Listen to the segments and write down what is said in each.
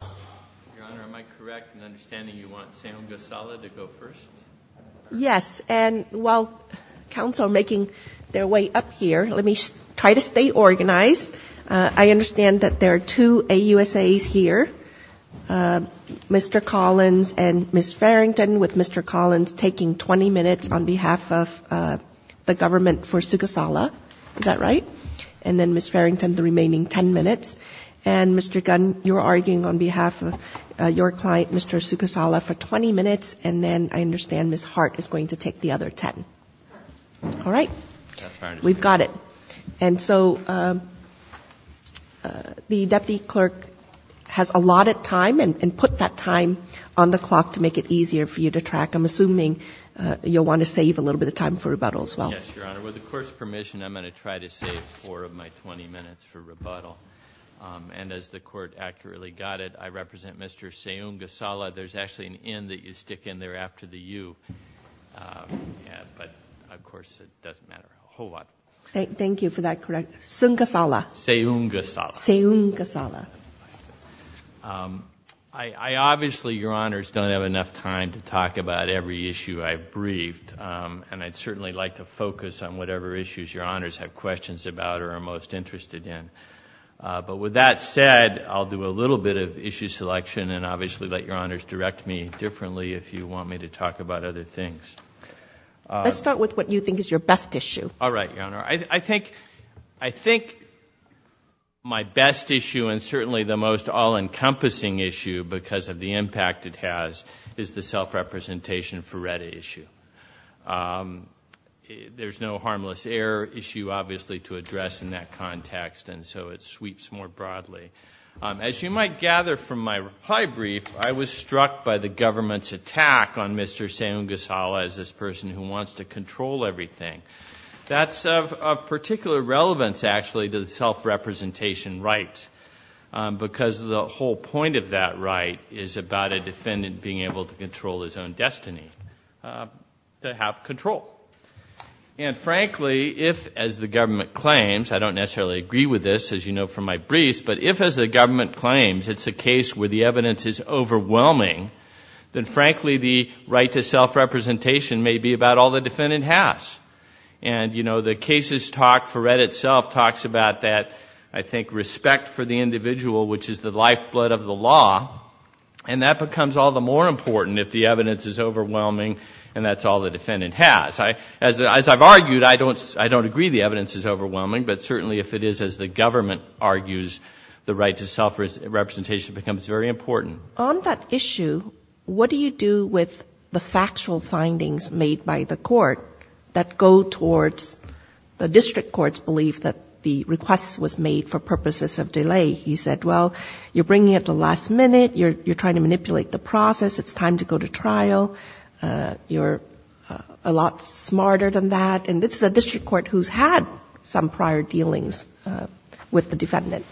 Your Honor, am I correct in understanding you want Seugasala to go first? Yes, and while counsel are making their way up here, let me try to stay organized. I understand that there are two AUSAs here, Mr. Collins and Ms. Farrington, with Mr. Collins taking 20 minutes on behalf of the government for Seugasala. Is that right? And then Ms. Farrington, the remaining 10 minutes. And Mr. Gunn, you're arguing on behalf of your client, Mr. Seugasala, for 20 minutes, and then I understand Ms. Hart is going to take the other 10. All right. We've got it. And so the deputy clerk has allotted time and put that time on the clock to make it easier for you to track. I'm assuming you'll want to save a little bit of time for rebuttal as well. Yes, Your Honor. With the court's permission, I'm going to try to save four of my 20 minutes for rebuttal. And as the court accurately got it, I represent Mr. Seugasala. There's actually an N that you stick in there after the U, but of course it doesn't matter. Thank you for that correction. Seugasala. Seugasala. Seugasala. I obviously, Your Honors, don't have enough time to talk about every issue I've briefed, and I'd certainly like to focus on whatever issues Your Honors have questions about or are most interested in. But with that said, I'll do a little bit of issue selection and obviously let Your Honors direct me differently if you want me to talk about other things. Let's start with what you think is your best issue. All right, Your Honor. I think my best issue and certainly the most all-encompassing issue because of the impact it has is the self-representation for RETA issue. There's no harmless error issue, obviously, to address in that context, and so it sweeps more broadly. As you might gather from my reply brief, I was struck by the government's attack on Mr. Seugasala as this person who wants to control everything. That's of particular relevance, actually, to the self-representation right because the whole point of that right is about a defendant being able to control his own destiny, to have control. And frankly, if, as the government claims, I don't necessarily agree with this, as you know from my briefs, but if, as the government claims, it's a case where the evidence is overwhelming, then frankly the right to self-representation may be about all the defendant has. And, you know, the case's talk for RETA itself talks about that, I think, respect for the individual, which is the lifeblood of the law, and that becomes all the more important if the evidence is overwhelming and that's all the defendant has. As I've argued, I don't agree the evidence is overwhelming, but certainly if it is, as the government argues, the right to self-representation becomes very important. On that issue, what do you do with the factual findings made by the court that go towards the district court's belief that the request was made for purposes of delay? He said, well, you're bringing it to the last minute. You're trying to manipulate the process. It's time to go to trial. You're a lot smarter than that, and this is a district court who's had some prior dealings with the defendant.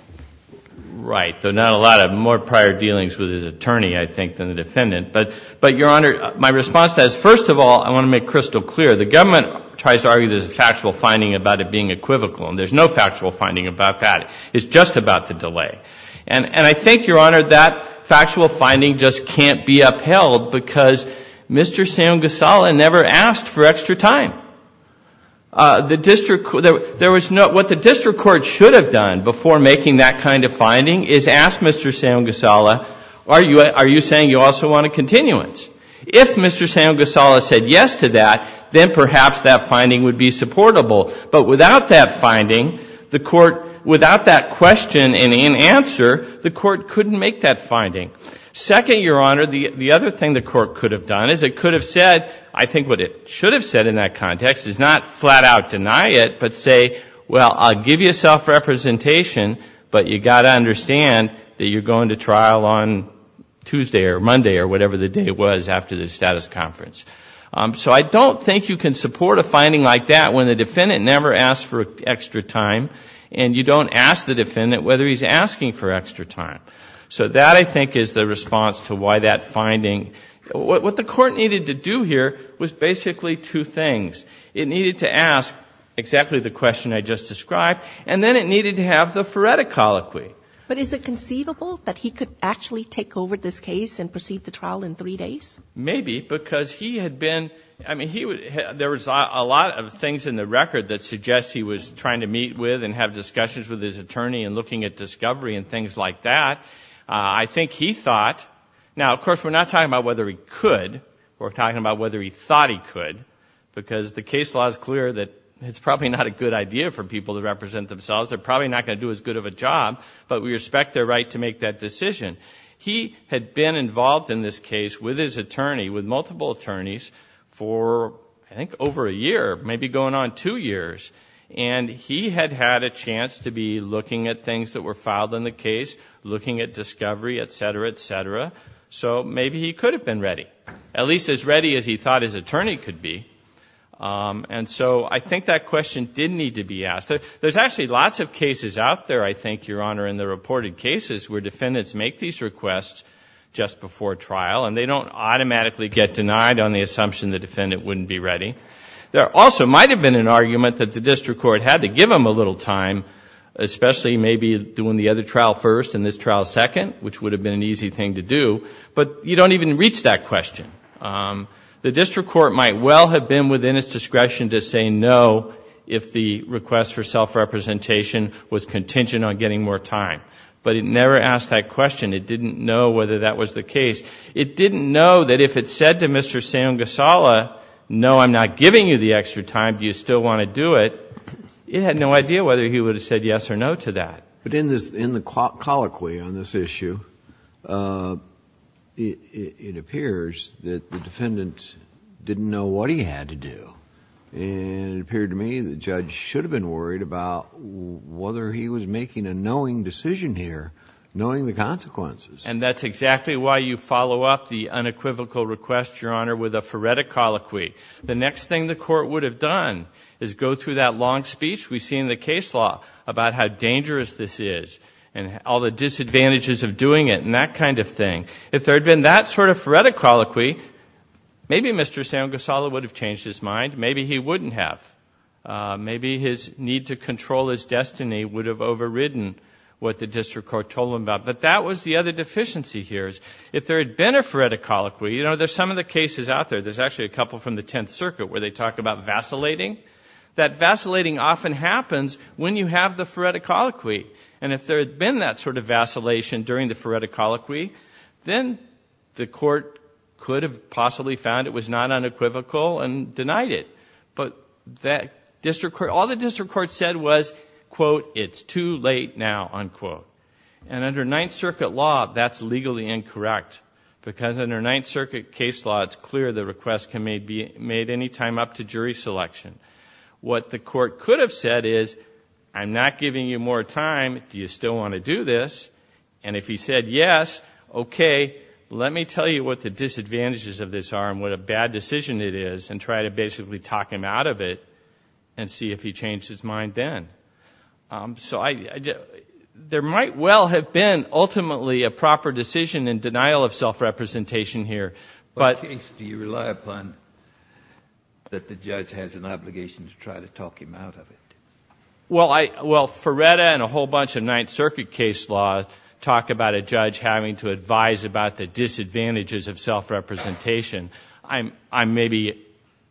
Right, though not a lot of more prior dealings with his attorney, I think, than the defendant. But, Your Honor, my response to that is, first of all, I want to make crystal clear. The government tries to argue there's a factual finding about it being equivocal, and there's no factual finding about that. It's just about the delay. And I think, Your Honor, that factual finding just can't be upheld because Mr. Sam Gasala never asked for extra time. What the district court should have done before making that kind of finding is ask Mr. Sam Gasala, are you saying you also want a continuance? If Mr. Sam Gasala said yes to that, then perhaps that finding would be supportable. But without that finding, without that question and answer, the court couldn't make that finding. Second, Your Honor, the other thing the court could have done is it could have said, I think what it should have said in that context, is not flat out deny it, but say, well, I'll give you self-representation, but you've got to understand that you're going to trial on Tuesday or Monday or whatever the day was after the status conference. So I don't think you can support a finding like that when the defendant never asked for extra time, and you don't ask the defendant whether he's asking for extra time. So that, I think, is the response to why that finding, what the court needed to do here was basically two things. It needed to ask exactly the question I just described, and then it needed to have the phoretic colloquy. But is it conceivable that he could actually take over this case and proceed the trial in three days? Maybe, because he had been, I mean, there was a lot of things in the record that suggests he was trying to meet with and have discussions with his attorney and looking at discovery and things like that. I think he thought, now, of course, we're not talking about whether he could. We're talking about whether he thought he could, because the case law is clear that it's probably not a good idea for people to represent themselves. They're probably not going to do as good of a job, but we respect their right to make that decision. He had been involved in this case with his attorney, with multiple attorneys, for, I think, over a year, maybe going on two years. And he had had a chance to be looking at things that were filed in the case, looking at discovery, et cetera, et cetera. So maybe he could have been ready, at least as ready as he thought his attorney could be. And so I think that question did need to be asked. There's actually lots of cases out there, I think, Your Honor, in the reported cases where defendants make these requests just before trial, and they don't automatically get denied on the assumption the defendant wouldn't be ready. There also might have been an argument that the district court had to give him a little time, especially maybe doing the other trial first and this trial second, which would have been an easy thing to do. But you don't even reach that question. The district court might well have been within its discretion to say no if the request for self-representation was contingent on getting more time. But it never asked that question. It didn't know whether that was the case. It didn't know that if it said to Mr. Sam Gasala, no, I'm not giving you the extra time. Do you still want to do it? It had no idea whether he would have said yes or no to that. But in the colloquy on this issue, it appears that the defendant didn't know what he had to do. And it appeared to me the judge should have been worried about whether he was making a knowing decision here, knowing the consequences. And that's exactly why you follow up the unequivocal request, Your Honor, with a phoretic colloquy. The next thing the court would have done is go through that long speech we see in the case law about how dangerous this is and all the disadvantages of doing it and that kind of thing. If there had been that sort of phoretic colloquy, maybe Mr. Sam Gasala would have changed his mind. Maybe he wouldn't have. Maybe his need to control his destiny would have overridden what the district court told him about. But that was the other deficiency here. If there had been a phoretic colloquy, you know, there's some of the cases out there, there's actually a couple from the Tenth Circuit where they talk about vacillating. That vacillating often happens when you have the phoretic colloquy. And if there had been that sort of vacillation during the phoretic colloquy, then the court could have possibly found it was not unequivocal and denied it. But all the district court said was, quote, it's too late now, unquote. And under Ninth Circuit law, that's legally incorrect. Because under Ninth Circuit case law, it's clear the request can be made any time up to jury selection. What the court could have said is, I'm not giving you more time. Do you still want to do this? And if he said yes, okay, let me tell you what the disadvantages of this are and what a bad decision it is and try to basically talk him out of it and see if he changed his mind then. So there might well have been ultimately a proper decision in denial of self-representation here. But do you rely upon that the judge has an obligation to try to talk him out of it? Well, Phoretta and a whole bunch of Ninth Circuit case laws talk about a judge having to advise about the disadvantages of self-representation. Maybe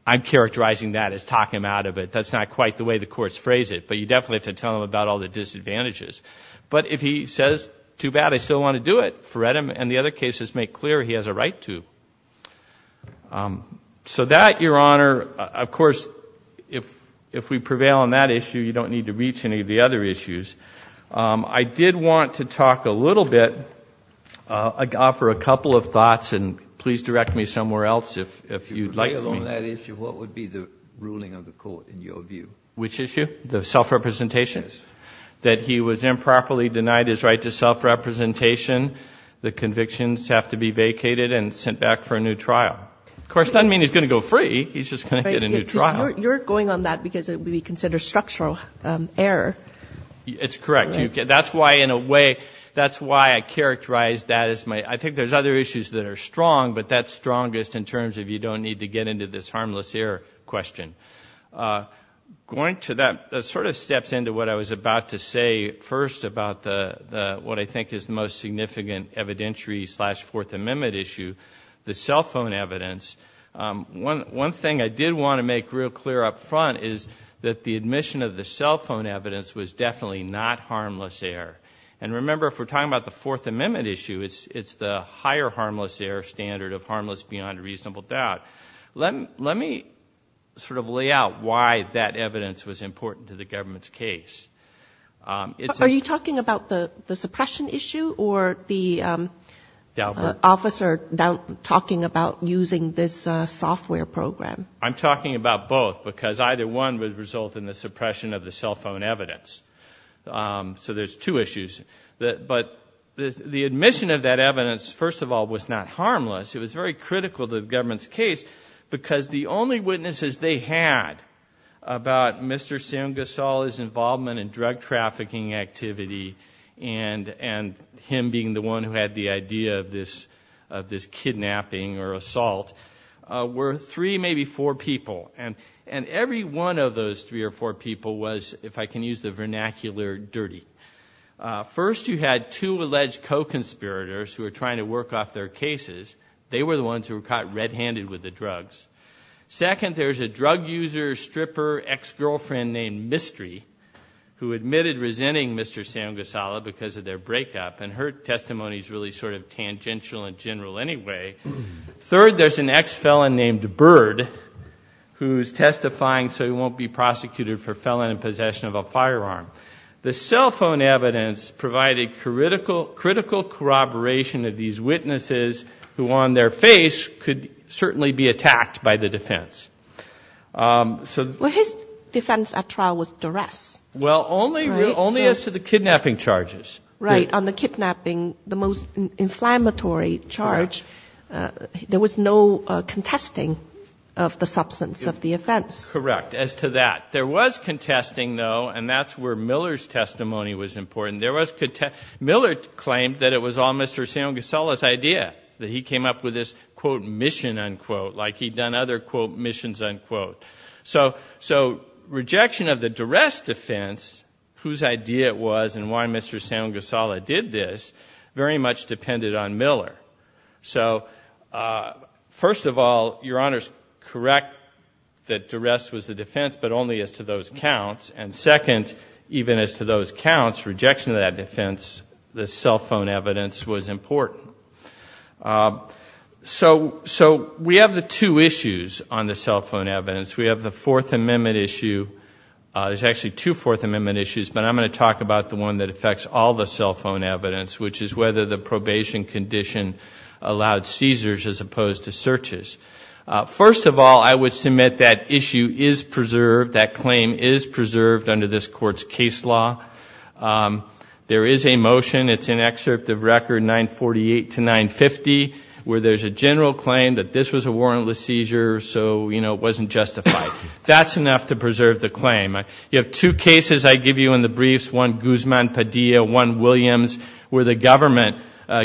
I'm characterizing that as talk him out of it. That's not quite the way the courts phrase it. But you definitely have to tell him about all the disadvantages. But if he says, too bad, I still want to do it, Phoretta and the other cases make clear he has a right to. So that, Your Honor, of course, if we prevail on that issue, you don't need to reach any of the other issues. I did want to talk a little bit, offer a couple of thoughts, and please direct me somewhere else if you'd like me. On that issue, what would be the ruling of the court in your view? Which issue? The self-representation? Yes. That he was improperly denied his right to self-representation. The convictions have to be vacated and sent back for a new trial. Of course, it doesn't mean he's going to go free. He's just going to get a new trial. You're going on that because it would be considered structural error. It's correct. That's why, in a way, that's why I characterize that as my – I think there's other issues that are strong, but that's strongest in terms of you don't need to get into this harmless error question. Going to that sort of steps into what I was about to say first about what I think is the most significant evidentiary slash Fourth Amendment issue, the cell phone evidence. One thing I did want to make real clear up front is that the admission of the cell phone evidence was definitely not harmless error. Remember, if we're talking about the Fourth Amendment issue, it's the higher harmless error standard of harmless beyond reasonable doubt. Let me sort of lay out why that evidence was important to the government's case. Are you talking about the suppression issue or the officer talking about using this software program? I'm talking about both because either one would result in the suppression of the cell phone evidence. So there's two issues. But the admission of that evidence, first of all, was not harmless. It was very critical to the government's case because the only witnesses they had about Mr. Sam Gasol's involvement in drug trafficking activity and him being the one who had the idea of this kidnapping or assault were three, maybe four people. And every one of those three or four people was, if I can use the vernacular, dirty. First, you had two alleged co-conspirators who were trying to work off their cases. They were the ones who were caught red-handed with the drugs. Second, there's a drug user, stripper, ex-girlfriend named Mystery who admitted resenting Mr. Sam Gasol because of their breakup. And her testimony is really sort of tangential and general anyway. Third, there's an ex-felon named Bird who's testifying so he won't be prosecuted for felon in possession of a firearm. The cell phone evidence provided critical corroboration of these witnesses who on their face could certainly be attacked by the defense. Well, his defense at trial was duress. Well, only as to the kidnapping charges. Right, on the kidnapping, the most inflammatory charge. There was no contesting of the substance of the offense. Correct, as to that. There was contesting, though, and that's where Miller's testimony was important. Miller claimed that it was all Mr. Sam Gasol's idea, that he came up with this, quote, mission, unquote, like he'd done other, quote, missions, unquote. So rejection of the duress defense, whose idea it was and why Mr. Sam Gasol did this, very much depended on Miller. So first of all, Your Honor's correct that duress was the defense, but only as to those counts. And second, even as to those counts, rejection of that defense, the cell phone evidence, was important. So we have the two issues on the cell phone evidence. We have the Fourth Amendment issue. There's actually two Fourth Amendment issues, but I'm going to talk about the one that affects all the cell phone evidence, which is whether the probation condition allowed seizures as opposed to searches. First of all, I would submit that issue is preserved, that claim is preserved under this Court's case law. There is a motion. It's in excerpt of Record 948 to 950, where there's a general claim that this was a warrantless seizure, so, you know, it wasn't justified. That's enough to preserve the claim. You have two cases I give you in the briefs, one Guzman-Padilla, one Williams, where the government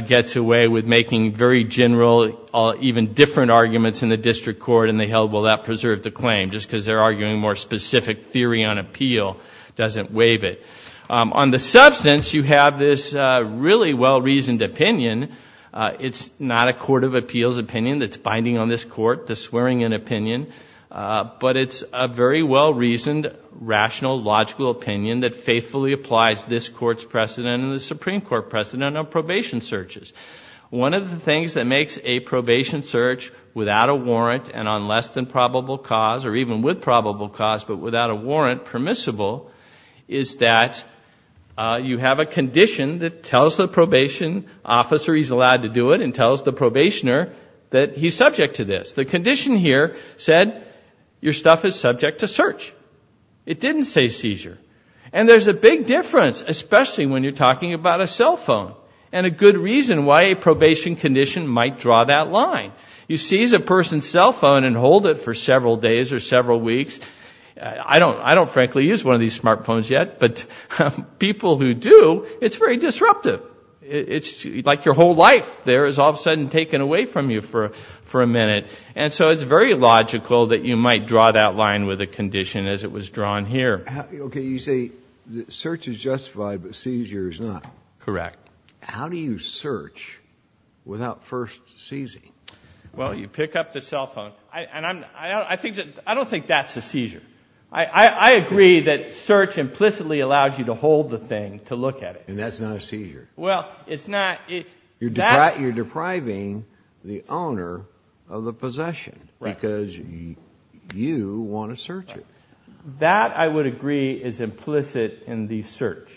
gets away with making very general, even different arguments in the district court, and they held, well, that preserved the claim, just because they're arguing more specific theory on appeal doesn't waive it. On the substance, you have this really well-reasoned opinion. It's not a court of appeals opinion that's binding on this Court, the swearing-in opinion, but it's a very well-reasoned, rational, logical opinion that faithfully applies this Court's precedent and the Supreme Court precedent of probation searches. One of the things that makes a probation search without a warrant and on less than probable cause, or even with probable cause but without a warrant permissible, is that you have a condition that tells the probation officer he's allowed to do it and tells the probationer that he's subject to this. The condition here said your stuff is subject to search. It didn't say seizure. And there's a big difference, especially when you're talking about a cell phone. And a good reason why a probation condition might draw that line. You seize a person's cell phone and hold it for several days or several weeks. I don't frankly use one of these smartphones yet, but people who do, it's very disruptive. It's like your whole life there is all of a sudden taken away from you for a minute. And so it's very logical that you might draw that line with a condition as it was drawn here. Okay, you say search is justified but seizure is not. Correct. How do you search without first seizing? Well, you pick up the cell phone. And I don't think that's a seizure. I agree that search implicitly allows you to hold the thing to look at it. And that's not a seizure. Well, it's not. You're depriving the owner of the possession because you want to search it. That, I would agree, is implicit in the search.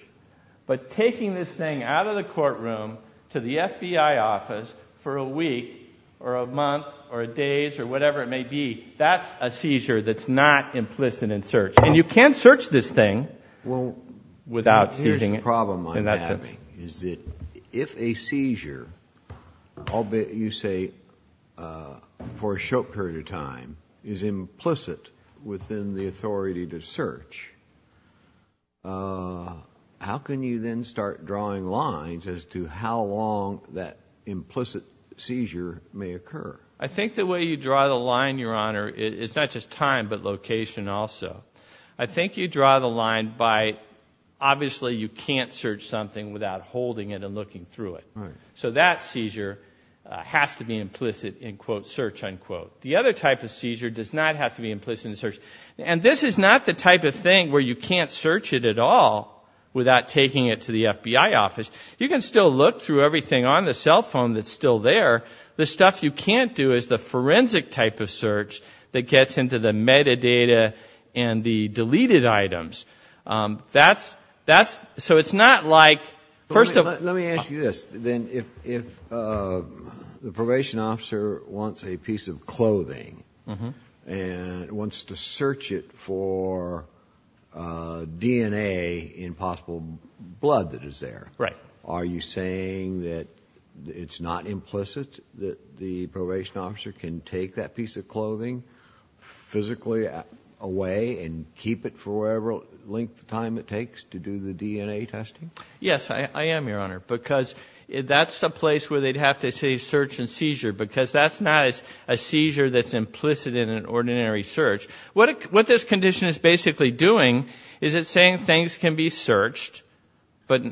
But taking this thing out of the courtroom to the FBI office for a week or a month or a day or whatever it may be, that's a seizure that's not implicit in search. And you can search this thing without seizing it. What I'm having is that if a seizure, albeit you say for a short period of time, is implicit within the authority to search, how can you then start drawing lines as to how long that implicit seizure may occur? I think the way you draw the line, Your Honor, is not just time but location also. I think you draw the line by obviously you can't search something without holding it and looking through it. So that seizure has to be implicit in, quote, search, unquote. The other type of seizure does not have to be implicit in search. And this is not the type of thing where you can't search it at all without taking it to the FBI office. You can still look through everything on the cell phone that's still there. The stuff you can't do is the forensic type of search that gets into the metadata and the deleted items. So it's not like, first of all. Let me ask you this. If the probation officer wants a piece of clothing and wants to search it for DNA in possible blood that is there, are you saying that it's not implicit that the probation officer can take that piece of clothing physically away and keep it for whatever length of time it takes to do the DNA testing? Yes, I am, Your Honor, because that's a place where they'd have to say search and seizure because that's not a seizure that's implicit in an ordinary search. What this condition is basically doing is it's saying things can be searched, but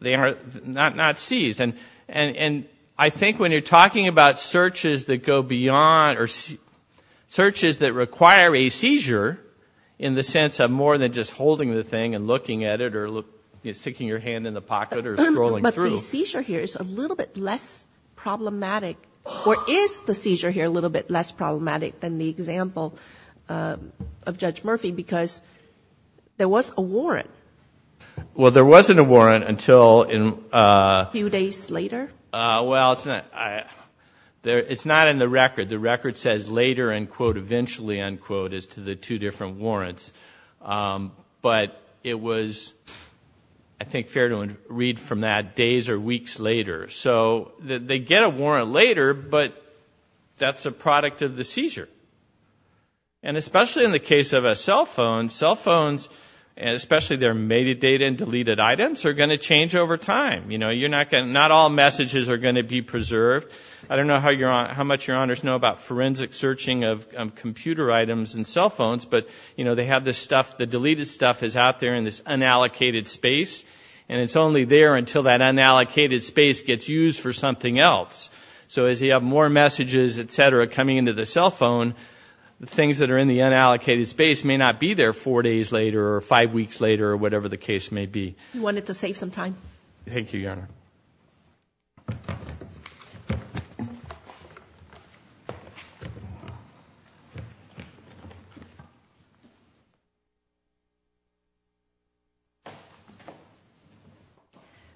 they are not seized. And I think when you're talking about searches that go beyond or searches that require a seizure, in the sense of more than just holding the thing and looking at it or sticking your hand in the pocket or scrolling through. So the seizure here is a little bit less problematic, or is the seizure here a little bit less problematic than the example of Judge Murphy because there was a warrant? Well, there wasn't a warrant until in- A few days later? Well, it's not in the record. The record says later, end quote, eventually, end quote, as to the two different warrants. But it was, I think, fair to read from that days or weeks later. So they get a warrant later, but that's a product of the seizure. And especially in the case of a cell phone, cell phones, especially their metadata and deleted items, are going to change over time. Not all messages are going to be preserved. I don't know how much Your Honors know about forensic searching of computer items and cell phones, but they have this stuff, the deleted stuff is out there in this unallocated space, and it's only there until that unallocated space gets used for something else. So as you have more messages, et cetera, coming into the cell phone, the things that are in the unallocated space may not be there four days later or five weeks later or whatever the case may be. We wanted to save some time. Thank you, Your Honor.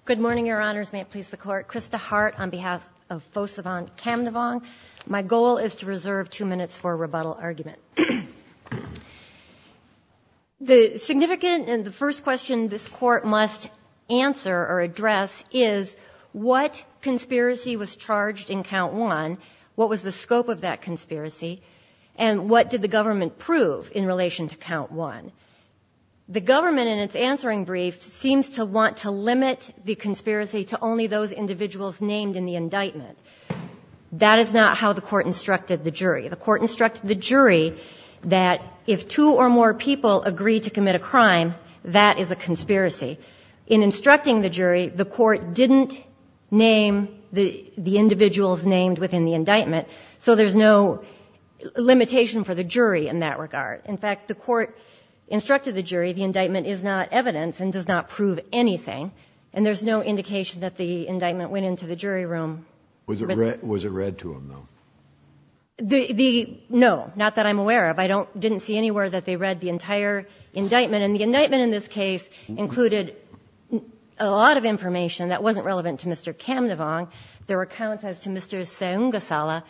Good morning, Your Honors. May it please the Court. Krista Hart on behalf of Fosavan Camdevong. My goal is to reserve two minutes for a rebuttal argument. The significant and the first question this Court must answer or address is what conspiracy was charged in Count 1, what was the scope of that conspiracy, and what did the government prove in relation to Count 1? The government in its answering brief seems to want to limit the conspiracy to only those individuals named in the indictment. That is not how the Court instructed the jury. The Court instructed the jury that if two or more people agree to commit a crime, that is a conspiracy. In instructing the jury, the Court didn't name the individuals named within the indictment, so there's no limitation for the jury in that regard. In fact, the Court instructed the jury the indictment is not evidence and does not prove anything, and there's no indication that the indictment went into the jury room. Was it read to them, though? No, not that I'm aware of. I didn't see anywhere that they read the entire indictment. And the indictment in this case included a lot of information that wasn't relevant to Mr. Camdevong. There were accounts as to Mr. Sengasala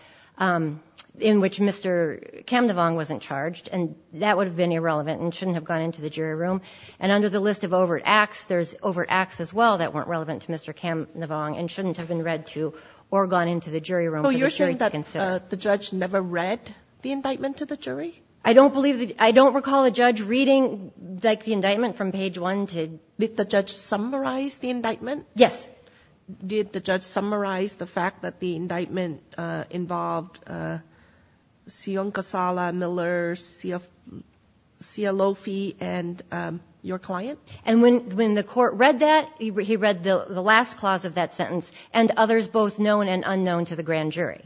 in which Mr. Camdevong wasn't charged, and that would have been irrelevant and shouldn't have gone into the jury room. And under the list of overt acts, there's overt acts as well that weren't relevant to Mr. Camdevong and shouldn't have been read to or gone into the jury room for the jury to consider. So you're saying that the judge never read the indictment to the jury? I don't recall a judge reading, like, the indictment from page 1. Did the judge summarize the indictment? Yes. Did the judge summarize the fact that the indictment involved Sion Casala, Miller, Sia Lofi, and your client? And when the court read that, he read the last clause of that sentence, and others both known and unknown to the grand jury.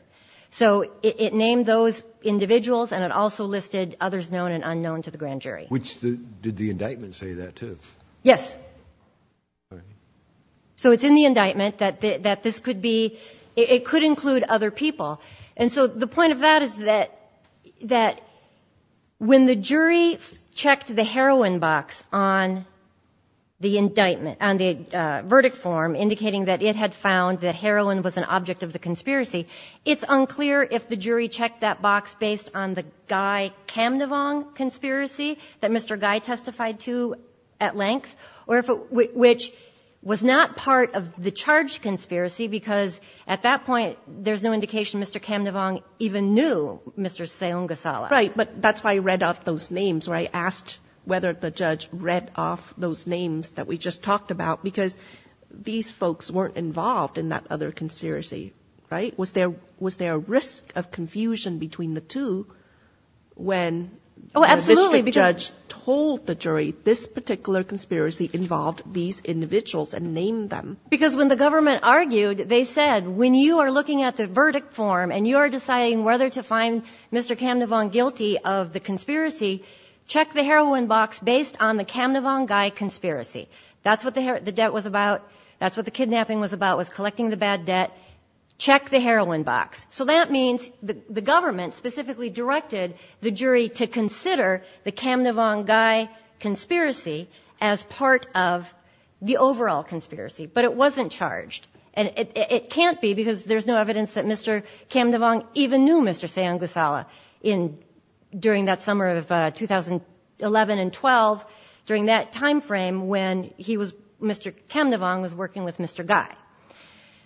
So it named those individuals, and it also listed others known and unknown to the grand jury. Did the indictment say that, too? Yes. So it's in the indictment that this could be, it could include other people. And so the point of that is that when the jury checked the heroin box on the indictment, on the verdict form indicating that it had found that heroin was an object of the conspiracy, it's unclear if the jury checked that box based on the Guy Camdevong conspiracy that Mr. Guy testified to at length, which was not part of the charge conspiracy, because at that point there's no indication Mr. Camdevong even knew Mr. Sion Casala. Right. But that's why he read off those names, right, asked whether the judge read off those names that we just talked about, because these folks weren't involved in that other conspiracy, right? Oh, absolutely. The district judge told the jury this particular conspiracy involved these individuals and named them. Because when the government argued, they said, when you are looking at the verdict form and you are deciding whether to find Mr. Camdevong guilty of the conspiracy, check the heroin box based on the Camdevong-Guy conspiracy. That's what the debt was about. That's what the kidnapping was about, was collecting the bad debt. Check the heroin box. So that means the government specifically directed the jury to consider the Camdevong-Guy conspiracy as part of the overall conspiracy. But it wasn't charged. And it can't be, because there's no evidence that Mr. Camdevong even knew Mr. Sion Casala during that summer of 2011 and 2012, during that time frame when Mr. Camdevong was working with Mr. Guy.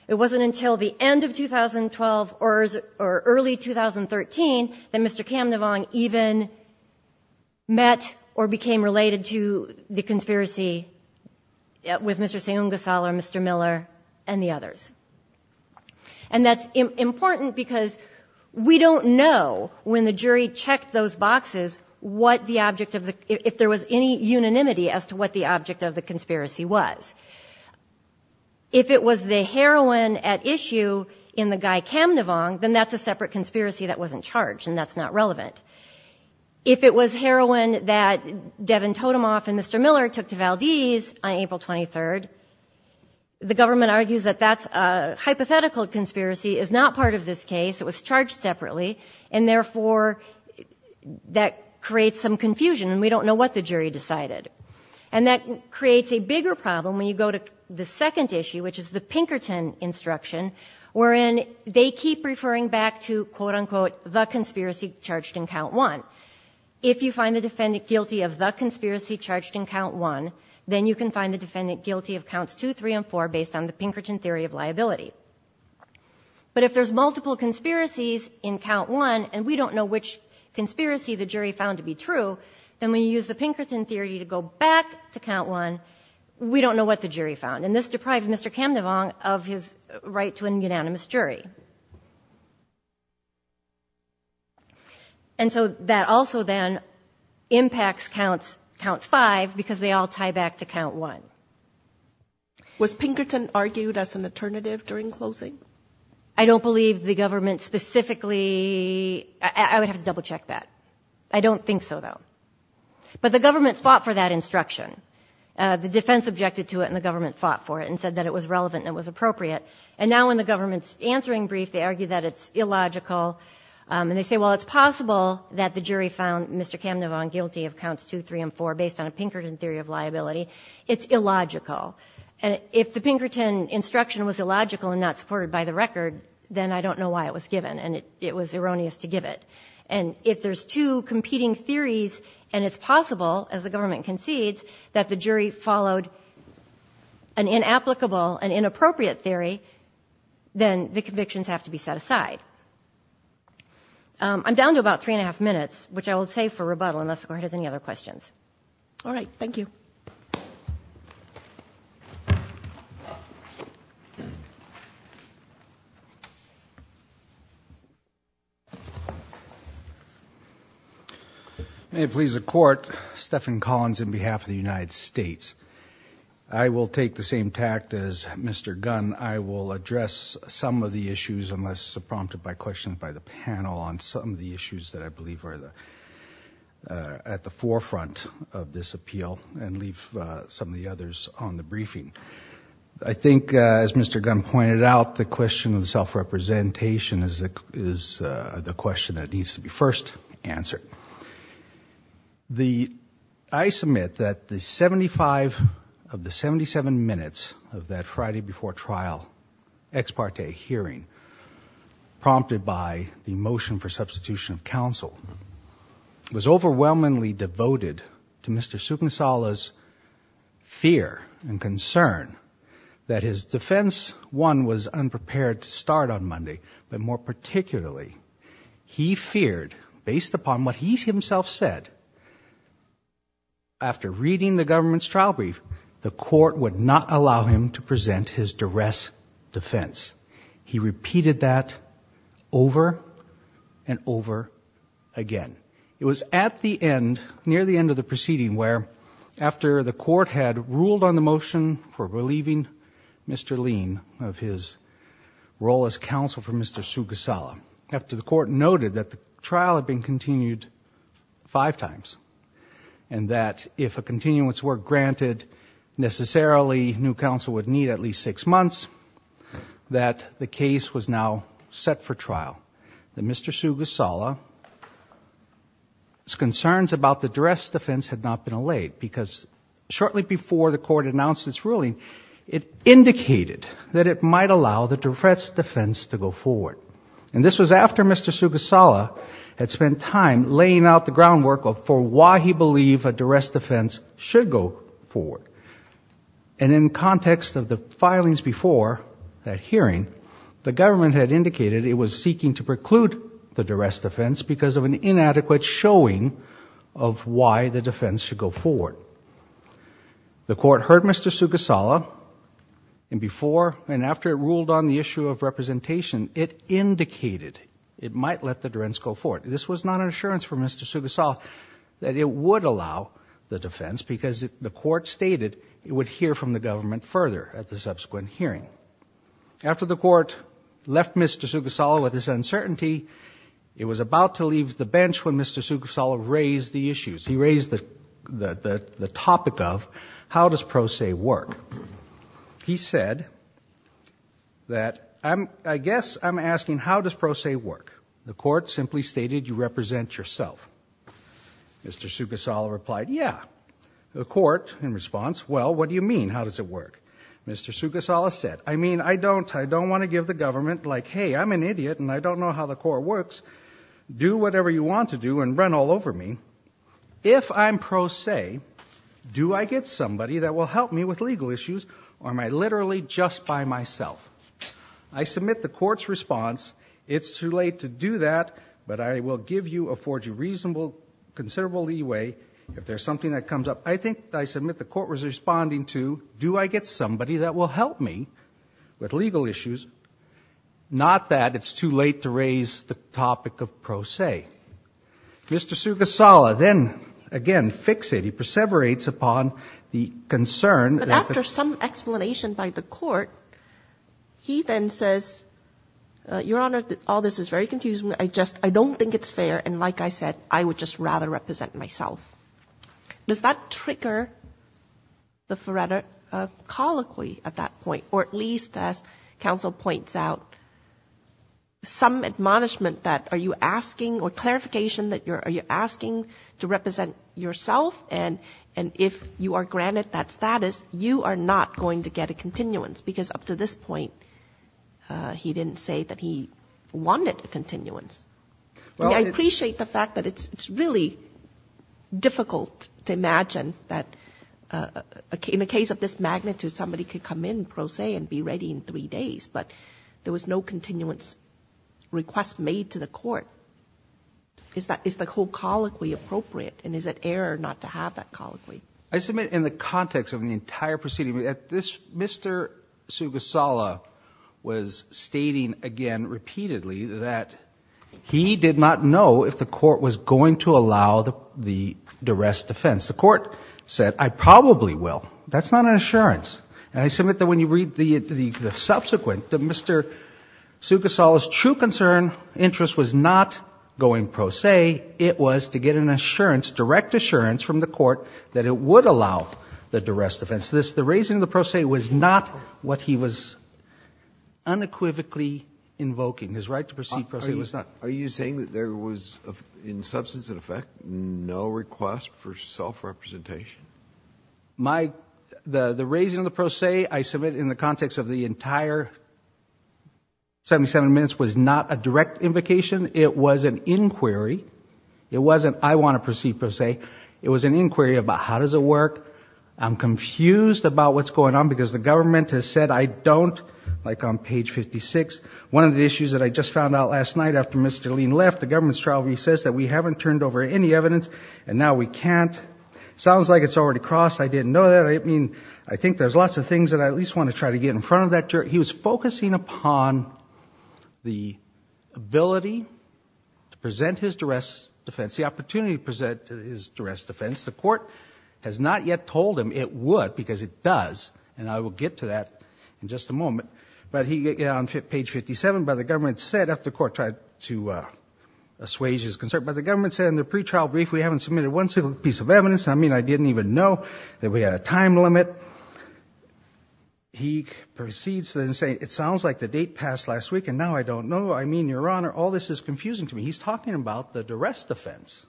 It wasn't until the end of 2012 or early 2013 that Mr. Camdevong even met or became related to the conspiracy with Mr. Sion Casala or Mr. Miller and the others. And that's important because we don't know, when the jury checked those boxes, if there was any unanimity as to what the object of the conspiracy was. If it was the heroin at issue in the Guy Camdevong, then that's a separate conspiracy that wasn't charged and that's not relevant. If it was heroin that Devin Totemoff and Mr. Miller took to Valdez on April 23rd, the government argues that that's a hypothetical conspiracy, is not part of this case, it was charged separately, and therefore that creates some confusion and we don't know what the jury decided. And that creates a bigger problem when you go to the second issue, which is the Pinkerton instruction, wherein they keep referring back to, quote-unquote, the conspiracy charged in Count 1. If you find the defendant guilty of the conspiracy charged in Count 1, then you can find the defendant guilty of Counts 2, 3, and 4 based on the Pinkerton theory of liability. But if there's multiple conspiracies in Count 1 and we don't know which conspiracy the jury found to be true, then when you use the Pinkerton theory to go back to Count 1, we don't know what the jury found. And this deprived Mr. Camdevong of his right to an unanimous jury. And so that also then impacts Count 5 because they all tie back to Count 1. Was Pinkerton argued as an alternative during closing? I don't believe the government specifically – I would have to double-check that. I don't think so, though. But the government fought for that instruction. The defense objected to it and the government fought for it and said that it was relevant and it was appropriate. And now when the government's answering brief, they argue that it's illogical. And they say, well, it's possible that the jury found Mr. Camdevong guilty of Counts 2, 3, and 4 based on a Pinkerton theory of liability. It's illogical. And if the Pinkerton instruction was illogical and not supported by the record, then I don't know why it was given, and it was erroneous to give it. And if there's two competing theories and it's possible, as the government concedes, that the jury followed an inapplicable and inappropriate theory, then the convictions have to be set aside. I'm down to about three and a half minutes, which I will save for rebuttal, unless the court has any other questions. All right. Thank you. May it please the Court. Stephen Collins on behalf of the United States. I will take the same tact as Mr. Gunn. I will address some of the issues, unless prompted by questions by the panel, on some of the issues that I believe are at the forefront of this appeal and leave some of the others on the briefing. I think, as Mr. Gunn pointed out, the question of self-representation is the question that needs to be first answered. I submit that the 75 of the 77 minutes of that Friday before trial ex parte hearing, prompted by the motion for substitution of counsel, was overwhelmingly devoted to Mr. Sucansola's fear and concern that his defense, one, was unprepared to start on Monday, but more particularly, he feared, based upon what he himself said, after reading the government's trial brief, the court would not allow him to present his duress defense. He repeated that over and over again. It was at the end, near the end of the proceeding, where after the court had ruled on the motion for relieving Mr. Lean of his role as counsel for Mr. Sugasola, after the court noted that the trial had been continued five times and that if a continuance were granted, necessarily new counsel would need at least six months, that the case was now set for trial. Mr. Sugasola's concerns about the duress defense had not been allayed because shortly before the court announced its ruling, it indicated that it might allow the duress defense to go forward. And this was after Mr. Sugasola had spent time laying out the groundwork for why he believed a duress defense should go forward. And in context of the filings before that hearing, the government had indicated it was seeking to preclude the duress defense because of an inadequate showing of why the defense should go forward. The court heard Mr. Sugasola, and before and after it ruled on the issue of representation, it indicated it might let the duress go forward. This was not an assurance for Mr. Sugasola that it would allow the defense because the court stated it would hear from the government further at the subsequent hearing. After the court left Mr. Sugasola with this uncertainty, it was about to leave the bench when Mr. Sugasola raised the issues. He raised the topic of, how does pro se work? He said that, I guess I'm asking, how does pro se work? The court simply stated, you represent yourself. Mr. Sugasola replied, yeah. The court, in response, well, what do you mean, how does it work? Mr. Sugasola said, I mean, I don't. I don't want to give the government, like, hey, I'm an idiot and I don't know how the court works. Do whatever you want to do and run all over me. If I'm pro se, do I get somebody that will help me with legal issues or am I literally just by myself? I submit the court's response, it's too late to do that, but I will give you, afford you reasonable, considerable leeway if there's something that comes up. I think I submit the court was responding to, do I get somebody that will help me with legal issues? Not that it's too late to raise the topic of pro se. Mr. Sugasola then, again, fixated, he perseverates upon the concern. But after some explanation by the court, he then says, Your Honor, all this is very confusing. I just, I don't think it's fair, and like I said, I would just rather represent myself. Does that trigger the Faretta colloquy at that point? Or at least, as counsel points out, some admonishment that are you asking or clarification that you're asking to represent yourself and if you are granted that status, you are not going to get a continuance, because up to this point he didn't say that he wanted a continuance. I appreciate the fact that it's really difficult to imagine that in a case of this magnitude, somebody could come in pro se and be ready in three days, but there was no continuance request made to the court. Is the whole colloquy appropriate, and is it error not to have that colloquy? I submit in the context of the entire proceeding, Mr. Sugasola was stating again repeatedly that he did not know if the court was going to allow the duress defense. The court said, I probably will. That's not an assurance. And I submit that when you read the subsequent, that Mr. Sugasola's true concern, interest was not going pro se, it was to get an assurance, direct assurance from the court that it would allow the duress defense. The raising of the pro se was not what he was unequivocally invoking. His right to proceed pro se was not. Are you saying that there was, in substance and effect, no request for self-representation? The raising of the pro se I submit in the context of the entire 77 minutes was not a direct invocation. It was an inquiry. It wasn't I want to proceed pro se. It was an inquiry about how does it work. I'm confused about what's going on because the government has said I don't, like on page 56, one of the issues that I just found out last night after Mr. Lean left, the government's trial recess that we haven't turned over any evidence and now we can't. Sounds like it's already crossed. I didn't know that. I think there's lots of things that I at least want to try to get in front of that jury. He was focusing upon the ability to present his duress defense, the opportunity to present his duress defense. The court has not yet told him it would because it does, and I will get to that in just a moment. But on page 57, the government said after the court tried to assuage his concern, the government said in the pretrial brief we haven't submitted one single piece of evidence. I mean I didn't even know that we had a time limit. He proceeds to say it sounds like the date passed last week and now I don't know. I mean, Your Honor, all this is confusing to me. He's talking about the duress defense,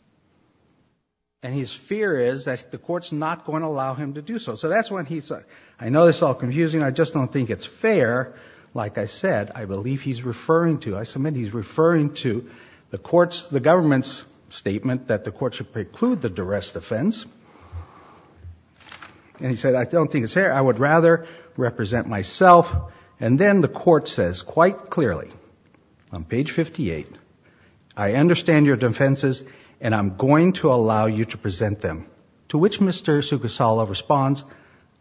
and his fear is that the court's not going to allow him to do so. So that's when he said, I know this is all confusing. I just don't think it's fair. Like I said, I believe he's referring to, I submit he's referring to the court's, the government's statement that the court should preclude the duress defense. And he said I don't think it's fair. I would rather represent myself. And then the court says quite clearly on page 58, I understand your defenses and I'm going to allow you to present them. To which Mr. Sugasala responds,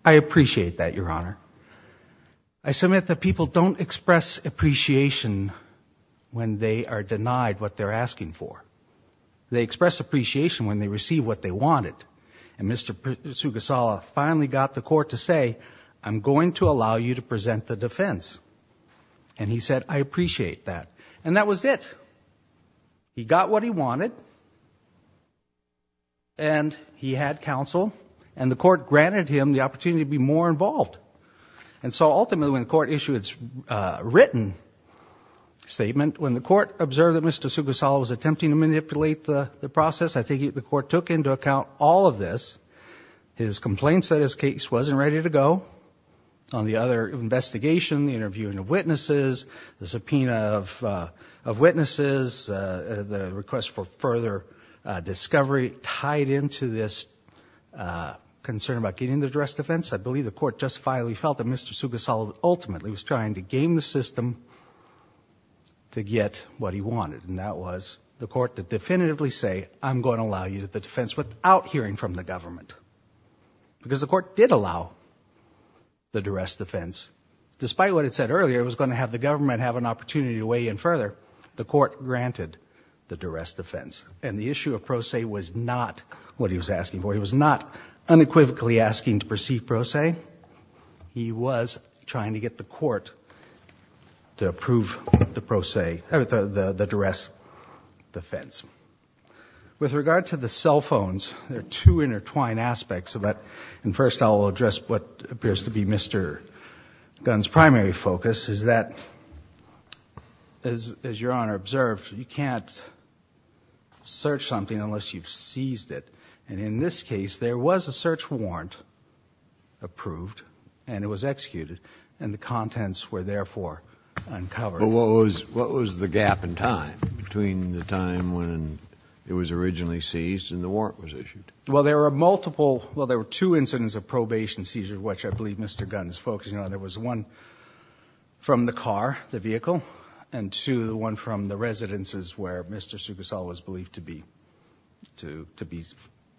I appreciate that, Your Honor. I submit that people don't express appreciation when they are denied what they're asking for. They express appreciation when they receive what they wanted. And Mr. Sugasala finally got the court to say I'm going to allow you to present the defense. And he said I appreciate that. And that was it. He got what he wanted. And he had counsel. And the court granted him the opportunity to be more involved. And so ultimately when the court issued its written statement, when the court observed that Mr. Sugasala was attempting to manipulate the process, I think the court took into account all of this. His complaints that his case wasn't ready to go on the other investigation, the interviewing of witnesses, the subpoena of witnesses, the request for further discovery tied into this concern about getting the duress defense. I believe the court justifiably felt that Mr. Sugasala ultimately was trying to game the system to get what he wanted. And that was the court to definitively say I'm going to allow you the defense without hearing from the government. Because the court did allow the duress defense. Despite what it said earlier, it was going to have the government have an opportunity to weigh in further. The court granted the duress defense. And the issue of pro se was not what he was asking for. He was not unequivocally asking to proceed pro se. He was trying to get the court to approve the duress defense. With regard to the cell phones, there are two intertwined aspects of that. And first I'll address what appears to be Mr. Gunn's primary focus, is that, as Your Honor observed, you can't search something unless you've seized it. And in this case, there was a search warrant approved, and it was executed, and the contents were therefore uncovered. But what was the gap in time between the time when it was originally seized and the warrant was issued? Well, there were two incidents of probation seizures, which I believe Mr. Gunn is focusing on. There was one from the car, the vehicle, and two, one from the residences where Mr. Sugasala was believed to be, to be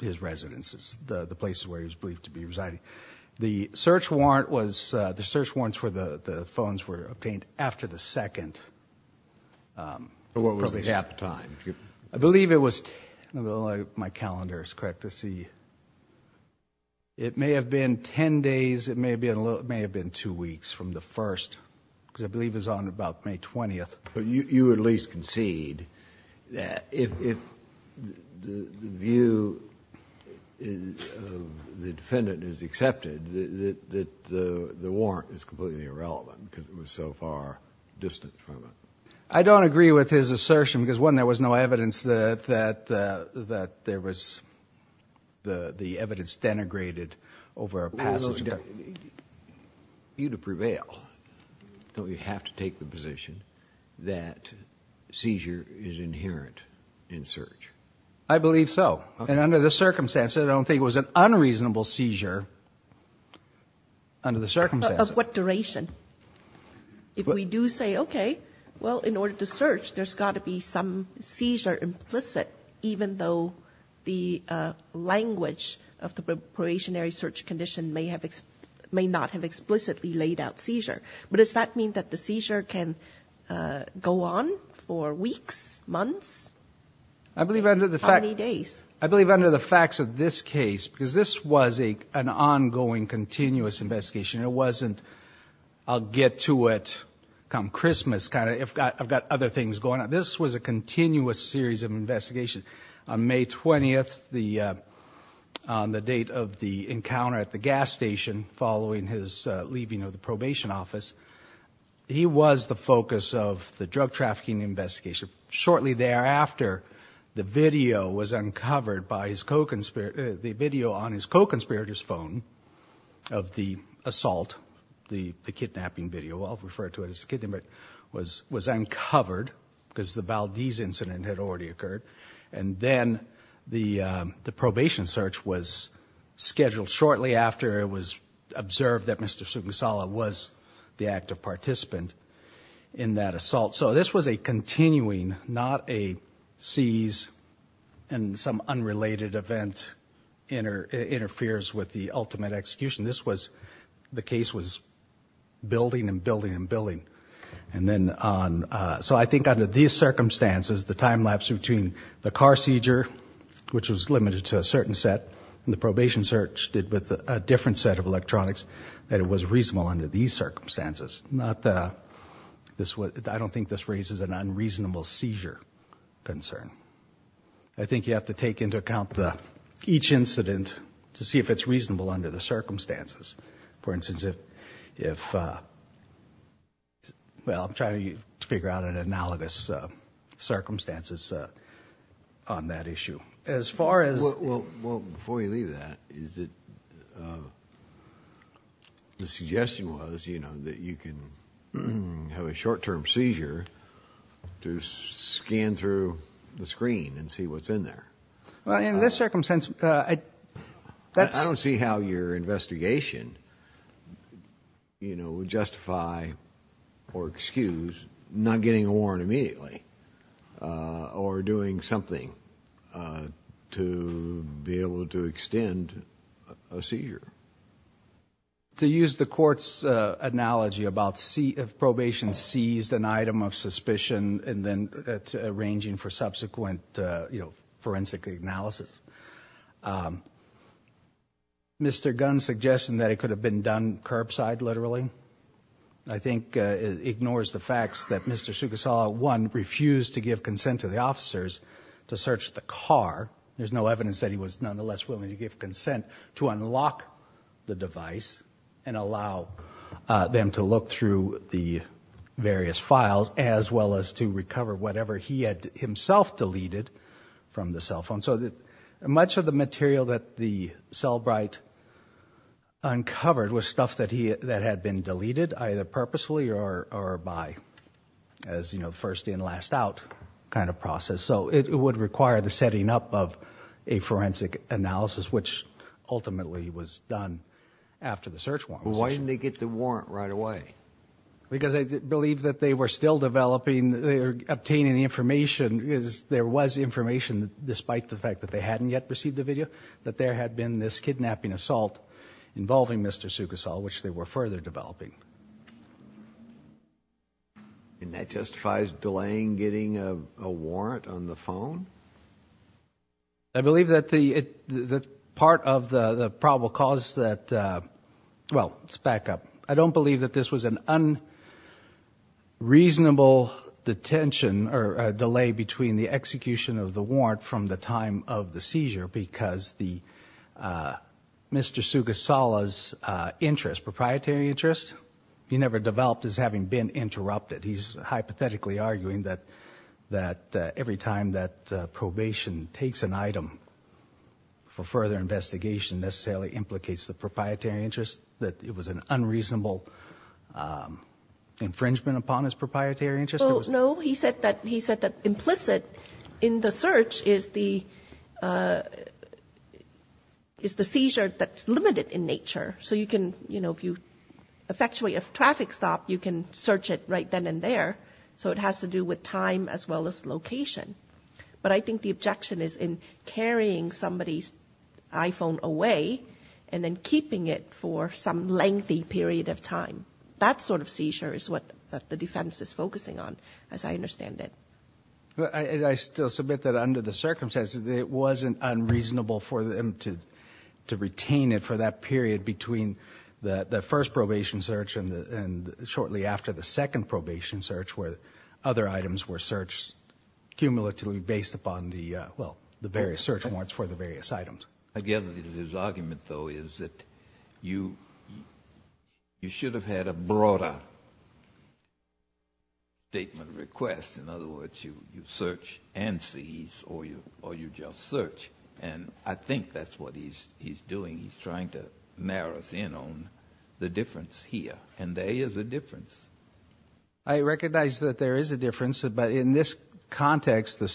his residences, the places where he was believed to be residing. The search warrant was... the search warrants for the phones were obtained after the second. What was the gap in time? I believe it was... my calendar is correct. Let's see. It may have been ten days, it may have been two weeks from the first, because I believe it was on about May 20th. But you at least concede that if the view of the defendant is accepted, that the warrant is completely irrelevant, because it was so far distanced from it. I don't agree with his assertion, because one, there was no evidence that there was... the evidence denigrated over a passage... You'd prevail. Don't you have to take the position that seizure is inherent in search? I believe so. And under the circumstances, I don't think it was an unreasonable seizure under the circumstances. Of what duration? If we do say, okay, well, in order to search, there's got to be some seizure implicit, even though the language of the probationary search condition may not have explicitly laid out seizure. But does that mean that the seizure can go on for weeks, months, how many days? I believe under the facts of this case, because this was an ongoing, continuous investigation. It wasn't, I'll get to it come Christmas, kind of, I've got other things going on. This was a continuous series of investigations. On May 20th, on the date of the encounter at the gas station, following his leaving of the probation office, he was the focus of the drug trafficking investigation. Shortly thereafter, the video was uncovered by his co-conspirator... the video on his co-conspirator's phone of the assault, the kidnapping video, I'll refer to it as the kidnapping video, was uncovered because the Valdez incident had already occurred. And then the probation search was scheduled shortly after it was observed that Mr. Sugusawa was the active participant in that assault. So this was a continuing, not a seize and some unrelated event interferes with the ultimate execution. This was, the case was building and building and building. And then on, so I think under these circumstances, the time lapse between the car seizure, which was limited to a certain set, and the probation search did with a different set of electronics, that it was reasonable under these circumstances. Not the, I don't think this raises an unreasonable seizure concern. I think you have to take into account each incident to see if it's reasonable under the circumstances. For instance, if, well, I'm trying to figure out an analogous circumstances on that issue. As far as... Well, in this circumstance, that's... forensic analysis. Mr. Gunn's suggestion that it could have been done curbside, literally, I think ignores the facts that Mr. Sugusawa, one, refused to give consent to the officers to search the car. There's no evidence that he was nonetheless willing to give consent to unlock the device and allow them to look through the various files, as well as to recover whatever he had himself deleted from the cell phone. So much of the material that the Cellbrite uncovered was stuff that had been deleted, either purposefully or by, as you know, first in, last out kind of process. So it would require the setting up of a forensic analysis, which ultimately was done after the search warrant was issued. Why didn't they get the warrant right away? Because I believe that they were still developing, they were obtaining the information, because there was information, despite the fact that they hadn't yet received the video, that there had been this kidnapping assault involving Mr. Sugusawa, which they were further developing. And that justifies delaying getting a warrant on the phone? I believe that part of the probable cause that, well, let's back up. I don't believe that this was an unreasonable detention or delay between the execution of the warrant from the time of the seizure, because Mr. Sugusawa's interest, proprietary interest, he never developed as having been interrupted. He's hypothetically arguing that every time that probation takes an item for further investigation necessarily implicates the proprietary interest, that it was an unreasonable infringement upon his proprietary interest. Well, no, he said that implicit in the search is the seizure that's limited in nature. So you can, you know, if you effectuate a traffic stop, you can search it right then and there. So it has to do with time as well as location. But I think the objection is in carrying somebody's iPhone away and then keeping it for some lengthy period of time. That sort of seizure is what the defense is focusing on, as I understand it. I still submit that under the circumstances, it wasn't unreasonable for them to retain it for that period between the first probation search and shortly after the second probation search where other items were searched cumulatively based upon the various search warrants for the various items. I gather his argument, though, is that you should have had a broader statement of request. In other words, you search and seize or you just search. And I think that's what he's doing. He's trying to narrow us in on the difference here. And there is a difference. I recognize that there is a difference. But in this context, the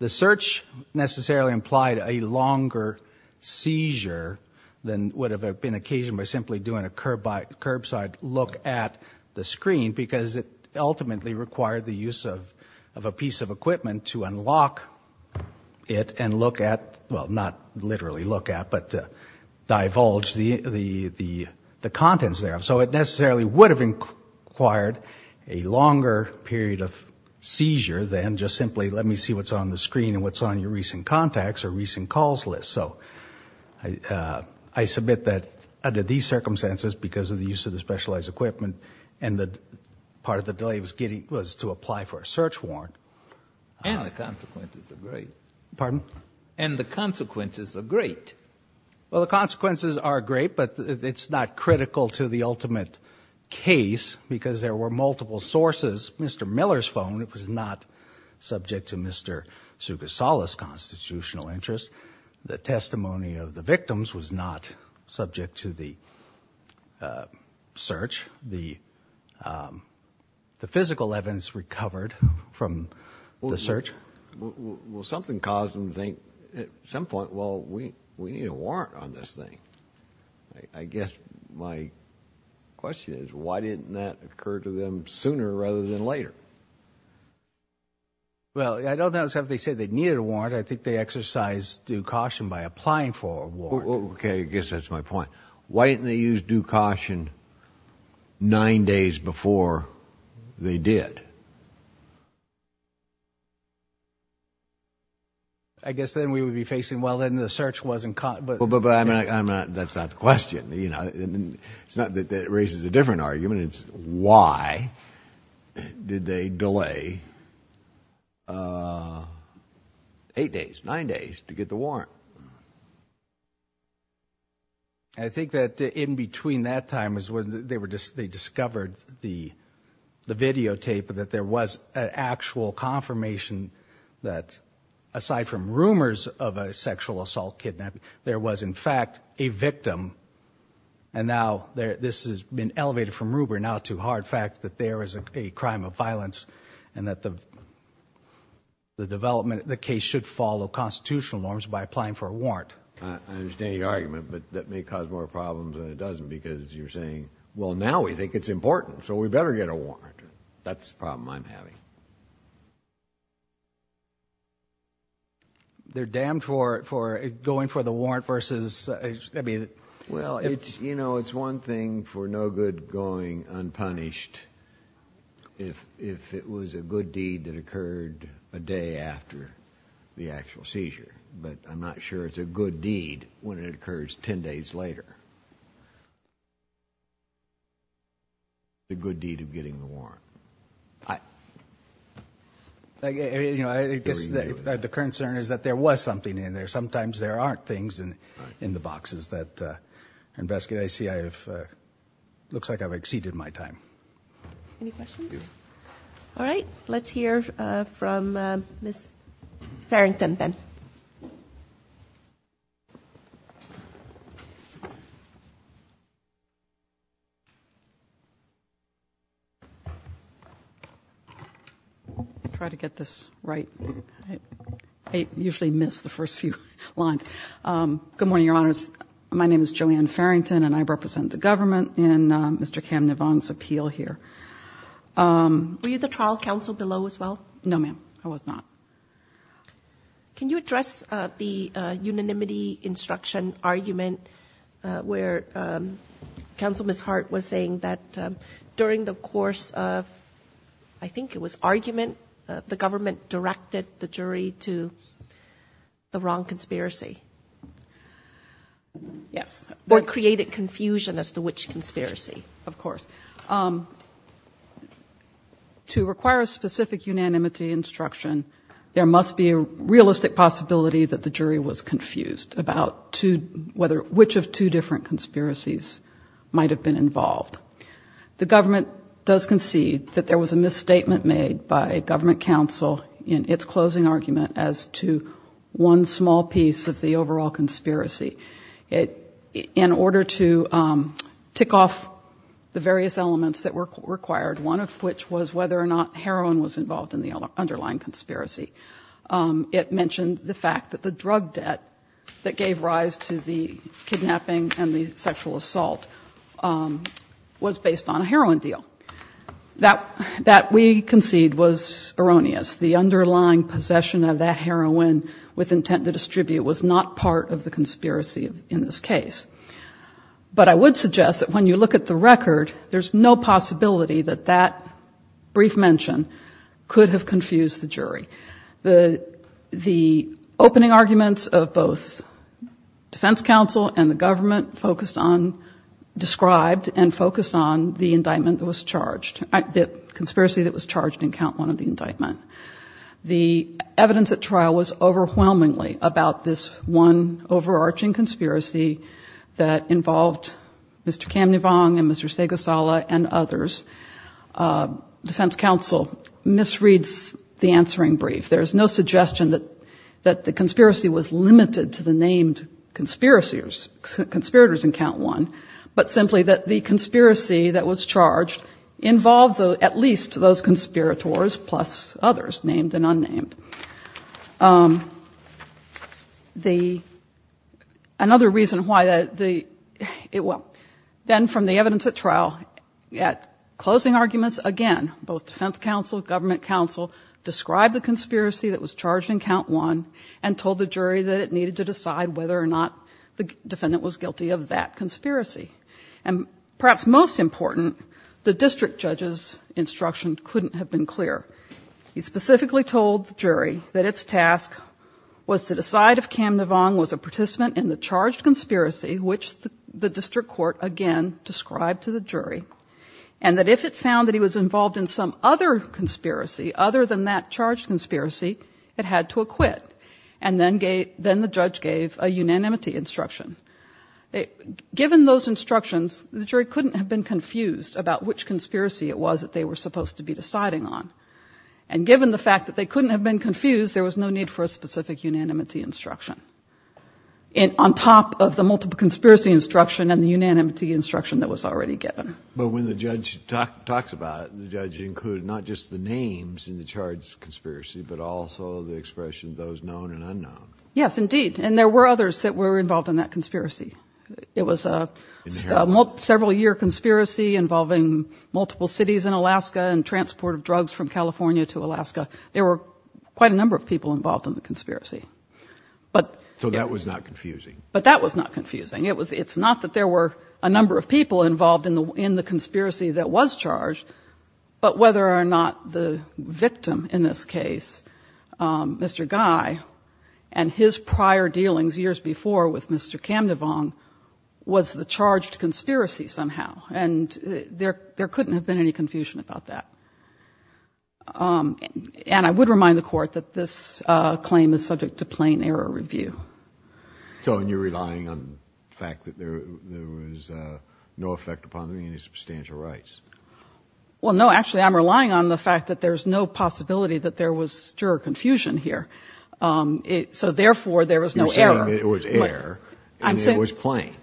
search necessarily implied a longer seizure than would have been occasioned by simply doing a curbside look at the screen because it ultimately required the use of a piece of equipment to unlock it and look at, well, not literally look at, but divulge the contents thereof. So it necessarily would have required a longer period of seizure than just simply let me see what's on the screen and what's on your recent contacts or recent calls list. So I submit that under these circumstances because of the use of the specialized equipment and that part of the delay was to apply for a search warrant. And the consequences are great. Pardon? And the consequences are great. Well, the consequences are great, but it's not critical to the ultimate case because there were multiple sources. Mr. Miller's phone was not subject to Mr. Sugasawa's constitutional interest. The testimony of the victims was not subject to the search. Well, something caused them to think at some point, well, we need a warrant on this thing. I guess my question is why didn't that occur to them sooner rather than later? Well, I don't think they said they needed a warrant. I think they exercised due caution by applying for a warrant. Okay, I guess that's my point. Why didn't they use due caution nine days before they did? I guess then we would be facing, well, then the search wasn't caught. But that's not the question. It's not that it raises a different argument. It's why did they delay eight days, nine days to get the warrant? I think that in between that time is when they discovered the videotape, that there was an actual confirmation that aside from rumors of a sexual assault kidnapping, there was, in fact, a victim. And now this has been elevated from rumor now to hard fact that there is a crime of violence and that the case should follow constitutional norms by applying for a warrant. I understand your argument, but that may cause more problems than it doesn't because you're saying, well, now we think it's important, so we better get a warrant. That's the problem I'm having. They're damned for going for the warrant versus... Well, you know, it's one thing for no good going unpunished if it was a good deed that occurred a day after the actual seizure. But I'm not sure it's a good deed when it occurs ten days later. The good deed of getting the warrant. The concern is that there was something in there. Sometimes there aren't things in the boxes that investigate. I see I have... it looks like I've exceeded my time. Any questions? All right, let's hear from Ms. Farrington then. I'll try to get this right. I usually miss the first few lines. Good morning, Your Honors. My name is Joanne Farrington, and I represent the government in Mr. Cam Nivong's appeal here. Were you the trial counsel below as well? No, ma'am, I was not. Can you address the unanimity instruction argument where Counsel Ms. Hart was saying that during the course of, I think it was argument, the government directed the jury to the wrong conspiracy? Yes. Or created confusion as to which conspiracy, of course. To require a specific unanimity instruction, there must be a realistic possibility that the jury was confused about which of two different conspiracies might have been involved. The government does concede that there was a misstatement made by a government counsel in its closing argument as to one small piece of the overall conspiracy. In order to tick off the various elements that were required, one of which was whether or not heroin was involved in the underlying conspiracy, it mentioned the fact that the drug debt that gave rise to the kidnapping and the sexual assault was based on a heroin deal. That we concede was erroneous. The underlying possession of that heroin with intent to distribute was not part of the conspiracy in this case. But I would suggest that when you look at the record, there's no possibility that that brief mention could have confused the jury. The opening arguments of both defense counsel and the government focused on, described and focused on the indictment that was charged, the conspiracy that was charged in count one of the indictment. The evidence at trial was overwhelmingly about this one overarching conspiracy that involved Mr. Kamnivong and Mr. Segasala and others. Defense counsel misreads the answering brief. There's no suggestion that the conspiracy was limited to the named conspirators in count one, but simply that the conspiracy that was charged involved at least those conspirators plus others, named and unnamed. The, another reason why the, well, then from the evidence at trial, closing arguments again, both defense counsel, government counsel described the conspiracy that was charged in count one and told the jury that it needed to decide whether or not the defendant was guilty of that conspiracy. And perhaps most important, the district judge's instruction couldn't have been clearer. He specifically told the jury that its task was to decide if Kamnivong was a participant in the charged conspiracy, which the district court again described to the jury, and that if it found that he was involved in some other conspiracy other than that charged conspiracy, it had to acquit. And then the judge gave a unanimity instruction. Given those instructions, the jury couldn't have been confused about which conspiracy it was that they were supposed to be deciding on. And given the fact that they couldn't have been confused, there was no need for a specific unanimity instruction. And on top of the multiple conspiracy instruction and the unanimity instruction that was already given. But when the judge talks about it, the judge included not just the names in the charge conspiracy, but also the expression of those known and unknown. Yes, indeed. And there were others that were involved in that conspiracy. It was a several year conspiracy involving multiple cities in Alaska and transport of drugs from California to Alaska. There were quite a number of people involved in the conspiracy. So that was not confusing. But that was not confusing. It's not that there were a number of people involved in the conspiracy that was charged, but whether or not the victim in this case, Mr. Guy, and his prior dealings years before with Mr. Camdevong, was the charged conspiracy somehow. And there couldn't have been any confusion about that. And I would remind the court that this claim is subject to plain error review. So you're relying on the fact that there was no effect upon the substantial rights. Well, no, actually, I'm relying on the fact that there's no possibility that there was confusion here. So therefore there was no error. It was air. I'm saying it was plain,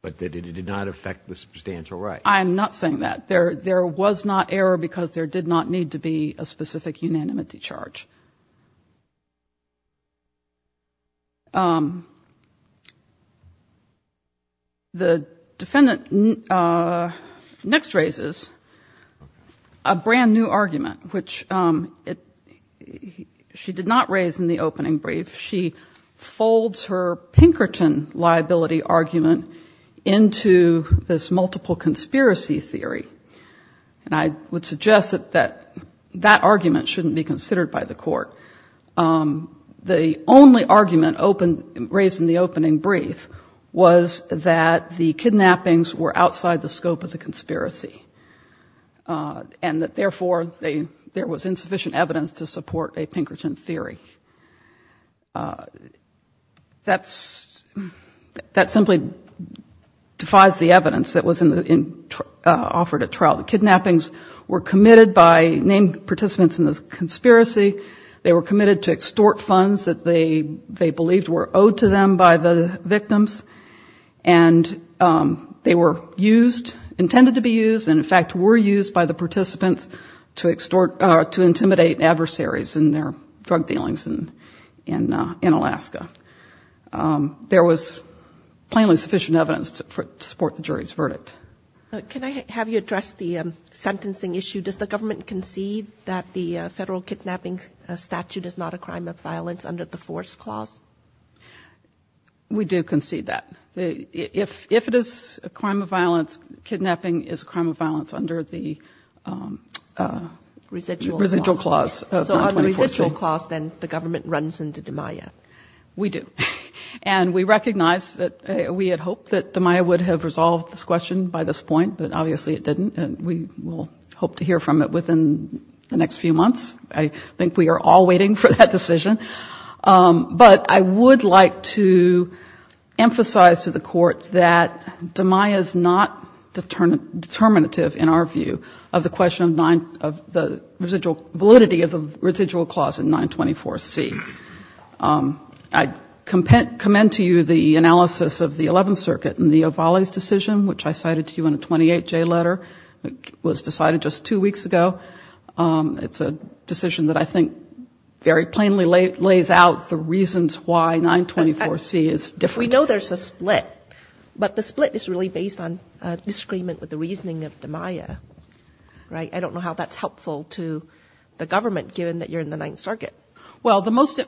but that it did not affect the substantial right. I'm not saying that there there was not error because there did not need to be a specific unanimity charge. The defendant next raises a brand new argument, which she did not raise in the opening brief. She folds her Pinkerton liability argument into this multiple conspiracy theory. And I would suggest that that argument shouldn't be considered by the court. The only argument raised in the opening brief was that the kidnappings were outside the scope of the conspiracy, and that therefore there was insufficient evidence to support a Pinkerton theory. That's, that simply defies the evidence that was offered at trial. The kidnappings were committed by named participants in the conspiracy. They were committed to extort funds that they believed were owed to them by the victims. And they were used, intended to be used, and in fact were used by the participants to extort, to intimidate adversaries in their drug dealings in Alaska. There was plainly sufficient evidence to support the jury's verdict. Can I have you address the sentencing issue? Does the government concede that the federal kidnapping statute is not a crime of violence under the force clause? We do concede that. If it is a crime of violence, kidnapping is a crime of violence under the residual clause. So on the residual clause, then the government runs into DiMaia. We do. And we recognize that we had hoped that DiMaia would have resolved this question by this point, but obviously it didn't. And we will hope to hear from it within the next few months. I think we are all waiting for that decision. But I would like to emphasize to the Court that DiMaia is not determinative in our view of the question of the validity of the residual clause in 924C. I commend to you the analysis of the Eleventh Circuit in the O'Valley's decision, which I cited to you in a 28J letter. It was decided just two weeks ago. It's a decision that I think very plainly lays out the reasons why 924C is different. We know there's a split, but the split is really based on disagreement with the reasoning of DiMaia. I don't know how that's helpful to the government, given that you're in the Ninth Circuit. Well, the most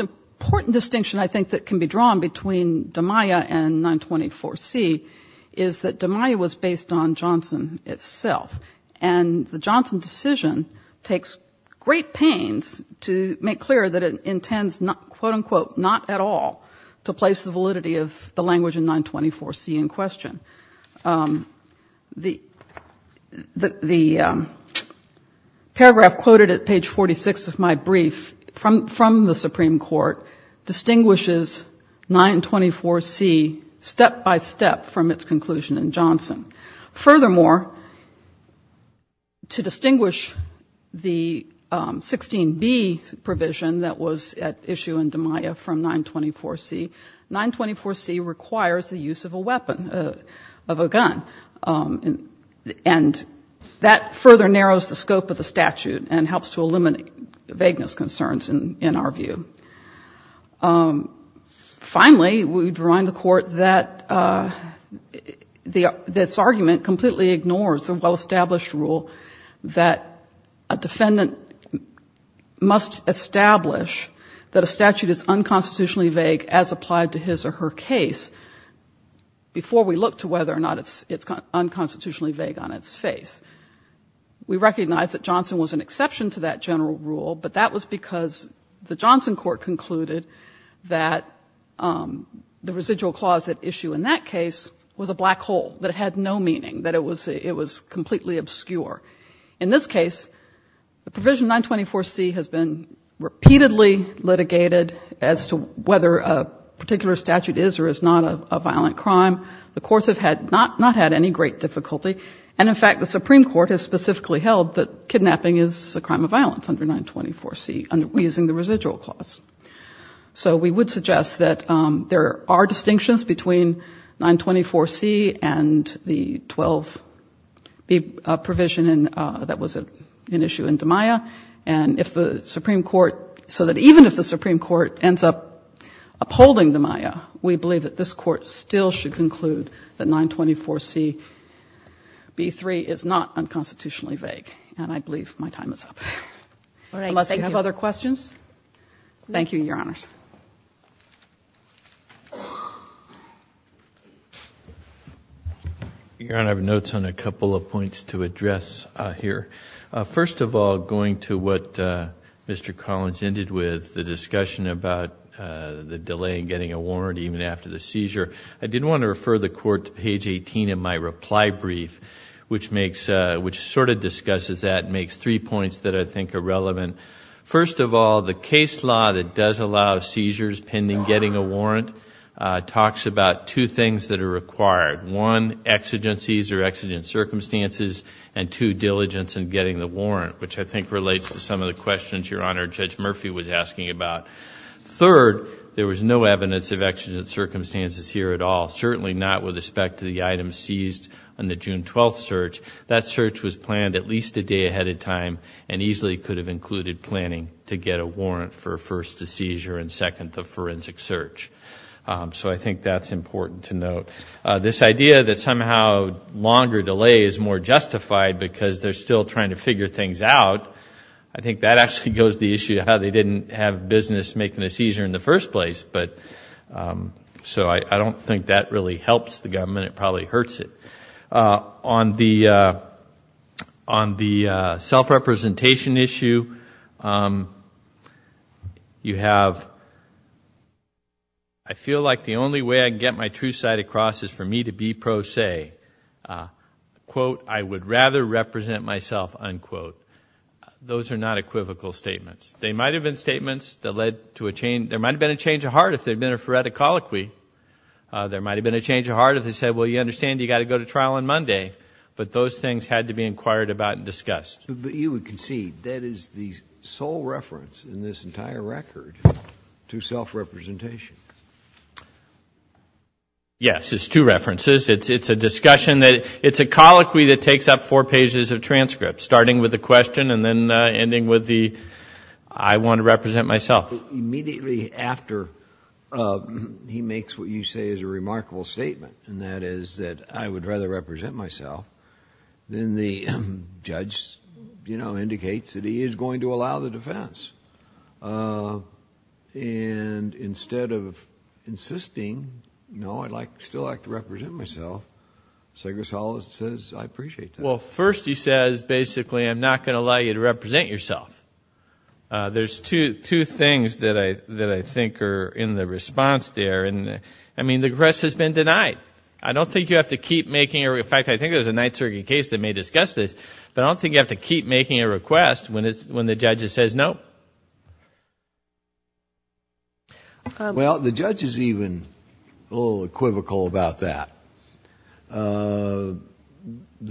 important distinction I think that can be drawn between DiMaia and 924C is that DiMaia was based on Johnson itself. And the Johnson decision takes great pains to make clear that it intends, quote-unquote, not at all to place the validity of the language in 924C in question. The paragraph quoted at page 46 of my brief from the Supreme Court distinguishes 924C step-by-step from its conclusion in Johnson. Furthermore, to distinguish the 16B provision that was at issue in DiMaia from 924C, 924C requires the use of a weapon, of a gun. And that further narrows the scope of the statute and helps to eliminate vagueness concerns in our view. Finally, we remind the Court that this argument completely ignores the well-established rule that a defendant must establish that a statute is unconstitutionally vague as applied to his or her case, before we look to whether or not it's unconstitutionally vague on its face. We recognize that Johnson was an exception to that general rule, but that was because the Johnson court concluded that the residual clause at issue in that case was a black hole, that it had no meaning, that it was completely obscure. In this case, the provision 924C has been repeatedly litigated as to whether a particular statute is or is not a violent crime. The courts have not had any great difficulty. And in fact, the Supreme Court has specifically held that kidnapping is a crime of violence under 924C, using the residual clause. So we would suggest that there are distinctions between 924C and the 12B provision that was at issue in DiMaia. And if the Supreme Court, so that even if the Supreme Court ends up upholding DiMaia, we believe that this Court still should conclude that 924CB3 is not unconstitutionally vague. And I believe my time is up. Unless you have other questions. Thank you, Your Honors. Your Honor, I have notes on a couple of points to address here. First of all, going to what Mr. Collins ended with, the discussion about the delay in getting a warrant even after the seizure. I did want to refer the Court to page 18 of my reply brief, which sort of discusses that and makes three points that I think are relevant. First of all, the case law that does allow seizures pending getting a warrant talks about two things that are required. One, exigencies or exigent circumstances, and two, diligence in getting the warrant, which I think relates to some of the questions Your Honor, Judge Murphy was asking about. Third, there was no evidence of exigent circumstances here at all, certainly not with respect to the item seized on the June 12th search. That search was planned at least a day ahead of time and easily could have included planning to get a warrant for first, the seizure, and second, the forensic search. So I think that's important to note. This idea that somehow longer delay is more justified because they're still trying to figure things out, I think that actually goes to the issue of how they didn't have business making a seizure in the first place. So I don't think that really helps the government. It probably hurts it. On the self-representation issue, you have, I feel like the only way I can get my true side across is for me to be pro se. Quote, I would rather represent myself, unquote. Those are not equivocal statements. They might have been statements that led to a change, there might have been a change of heart if there had been a phoretic colloquy. There might have been a change of heart if they said, well, you understand, you've got to go to trial on Monday. But those things had to be inquired about and discussed. But you would concede that is the sole reference in this entire record to self-representation. Yes, it's two references. It's a discussion that, it's a colloquy that takes up four pages of transcripts, starting with the question and then ending with the I want to represent myself. Immediately after he makes what you say is a remarkable statement, and that is that I would rather represent myself, then the judge indicates that he is going to allow the defense. And instead of insisting, no, I'd still like to represent myself, Segres-Hollis says I appreciate that. Well, first he says, basically, I'm not going to allow you to represent yourself. There's two things that I think are in the response there. I mean, the request has been denied. I don't think you have to keep making, in fact, I think there's a night circuit case that may discuss this, but I don't think you have to keep making a request when the judge says no. Well, the judge is even a little equivocal about that. The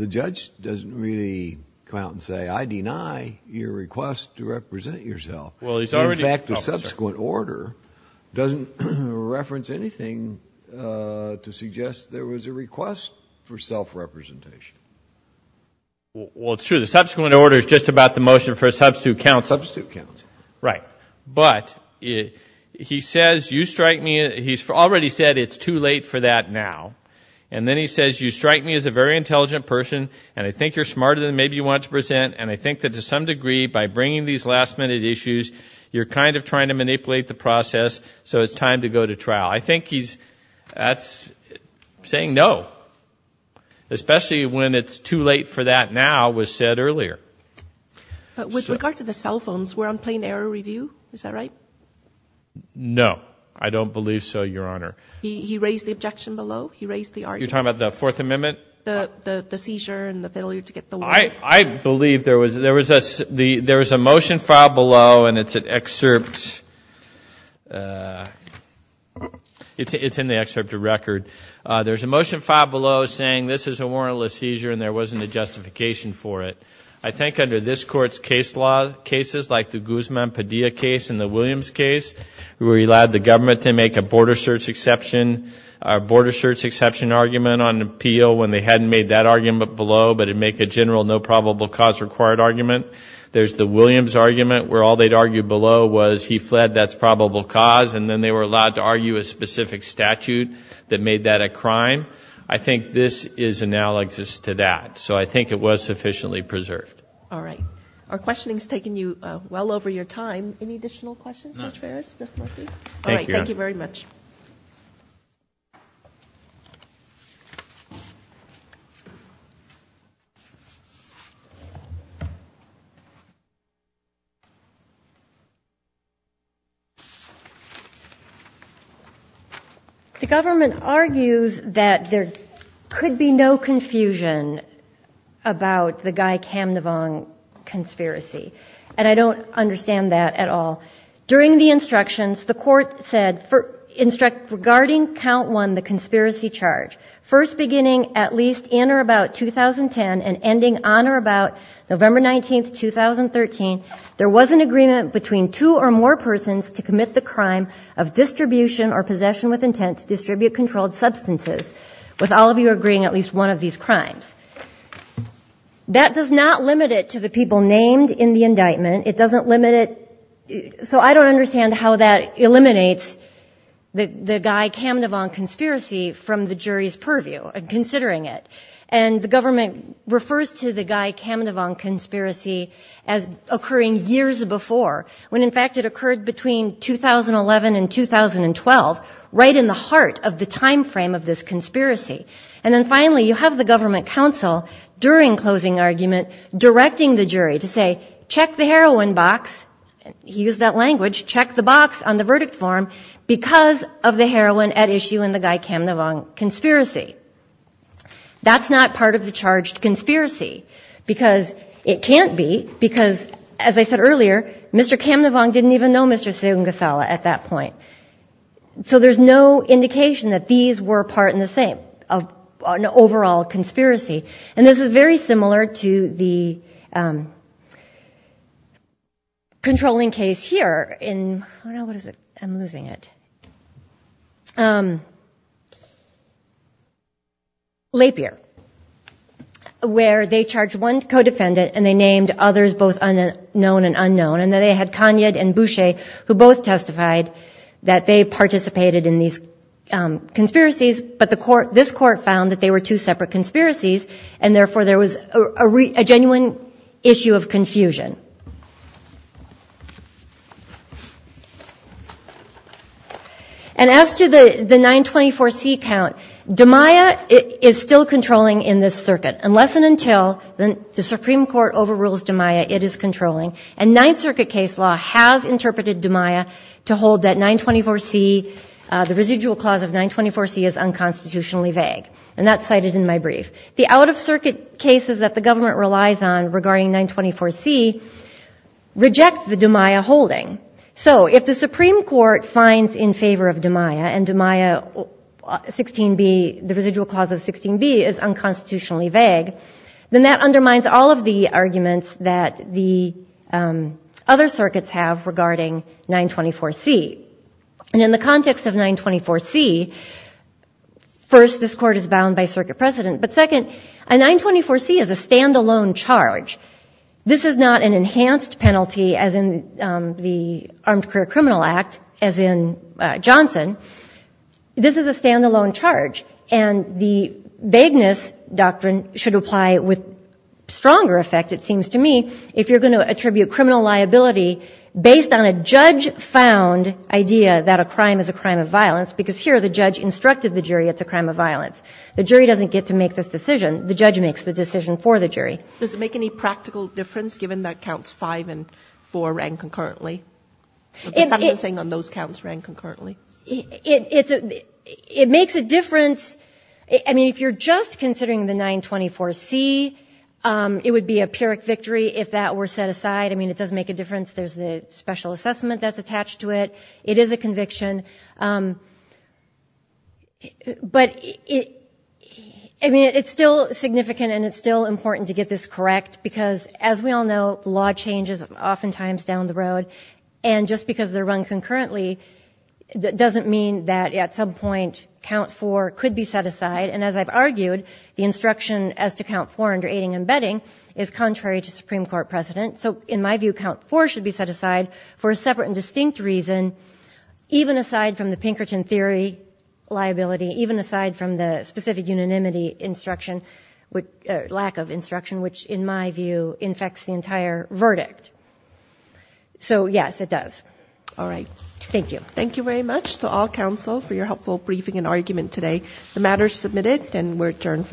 judge doesn't really come out and say, I deny your request to represent yourself. In fact, the subsequent order doesn't reference anything to suggest there was a request for self-representation. Well, it's true. The subsequent order is just about the motion for a substitute counsel. Right. But he says you strike me, he's already said it's too late for that now. And then he says you strike me as a very intelligent person, and I think you're smarter than maybe you want to present, and I think that to some degree, by bringing these last minute issues, you're kind of trying to manipulate the process, so it's time to go to trial. I think he's saying no, especially when it's too late for that now was said earlier. With regard to the cell phones, we're on plain error review, is that right? No, I don't believe so, Your Honor. He raised the objection below, he raised the argument. You're talking about the Fourth Amendment? The seizure and the failure to get the warrant. I believe there was a motion filed below, and it's an excerpt, it's in the excerpted record. There's a motion filed below saying this is a warrantless seizure and there wasn't a justification for it. I think under this Court's case law, cases like the Guzman-Padilla case and the Williams case, we allowed the government to make a border search exception argument on appeal when they hadn't made that argument below, but it would make a general no probable cause required argument. There's the Williams argument where all they'd argue below was he fled, that's probable cause, and then they were allowed to argue a specific statute that made that a crime. I think this is analogous to that, so I think it was sufficiently preserved. All right, our questioning's taken you well over your time. Any additional questions, Judge Ferris, Judge Murphy? All right, thank you very much. The government argues that there could be no confusion about the guy, Cam Navone, conspiracy, and I don't understand that at all. During the instructions, the Court said regarding Count 1, the conspiracy charge, first beginning at least in or about 2010 and ending on or about November 19, 2013, there was an agreement between two or more persons to commit the crime of distribution or possession with intent to distribute controlled substances, with all of you agreeing at least one of these crimes. That does not limit it to the people named in the indictment. It doesn't limit it, so I don't understand how that eliminates the guy, Cam Navone, conspiracy from the jury's purview, considering it. And the government refers to the guy, Cam Navone, conspiracy as occurring years before, when in fact it occurred between 2011 and 2012, right in the heart of the time frame of this conspiracy. And then finally, you have the government counsel, during closing argument, directing the jury to say, check the heroin box, he used that language, check the box on the verdict form, because of the heroin at issue in the guy, Cam Navone, conspiracy. That's not part of the charged conspiracy, because it can't be, because as I said earlier, Mr. Cam Navone didn't even know Mr. Sengasala at that point. So there's no indication that these were part in the same, an overall conspiracy. And this is very similar to the controlling case here in, oh no, what is it? I'm losing it. Lapierre, where they charged one co-defendant and they named others both unknown and unknown, and they had Kanyed and Boucher, who both testified that they participated in these conspiracies, but this court found that they were two separate conspiracies, and therefore there was a genuine issue of confusion. And as to the 924C count, DiMaia is still controlling in this circuit, unless and until the Supreme Court overrules DiMaia, it is controlling. And Ninth Circuit case law has interpreted DiMaia to hold that 924C, the residual clause of 924C is unconstitutionally vague. And that's cited in my brief. The out-of-circuit cases that the government relies on regarding 924C reject the DiMaia holding. So if the Supreme Court finds in favor of DiMaia, and DiMaia 16b, the residual clause of 16b is unconstitutionally vague, then that undermines all of the arguments that the other circuits have regarding 924C. And in the context of 924C, first this court is bound by circuit precedent, but second, a 924C is a standalone charge. This is not an enhanced penalty as in the Armed Career Criminal Act, as in Johnson. This is a standalone charge. And the vagueness doctrine should apply with stronger effect, it seems to me, if you're going to attribute criminal liability based on a judge-found idea that a crime is a crime of violence, because here the judge instructed the jury it's a crime of violence. The jury doesn't get to make this decision. The judge makes the decision for the jury. Does it make any practical difference, given that counts 5 and 4 ran concurrently? The sentencing on those counts ran concurrently. It makes a difference. I mean, if you're just considering the 924C, it would be a pyrrhic victory if that were set aside. I mean, it doesn't make a difference. There's the special assessment that's attached to it. It is a conviction. But I mean, it's still significant and it's still important to get this correct, because as we all know, law changes oftentimes down the road. And just because they're run concurrently doesn't mean that at some point count 4 could be set aside. And as I've argued, the instruction as to count 4 under aiding and abetting is contrary to Supreme Court precedent. So in my view, count 4 should be set aside for a separate and distinct reason, even aside from the Pinkerton theory liability, even aside from the specific unanimity instruction, lack of instruction, which in my view infects the entire verdict. So yes, it does. All right. Thank you. Thank you very much to all counsel for your helpful briefing and argument today. The matter is submitted and we're adjourned for the week.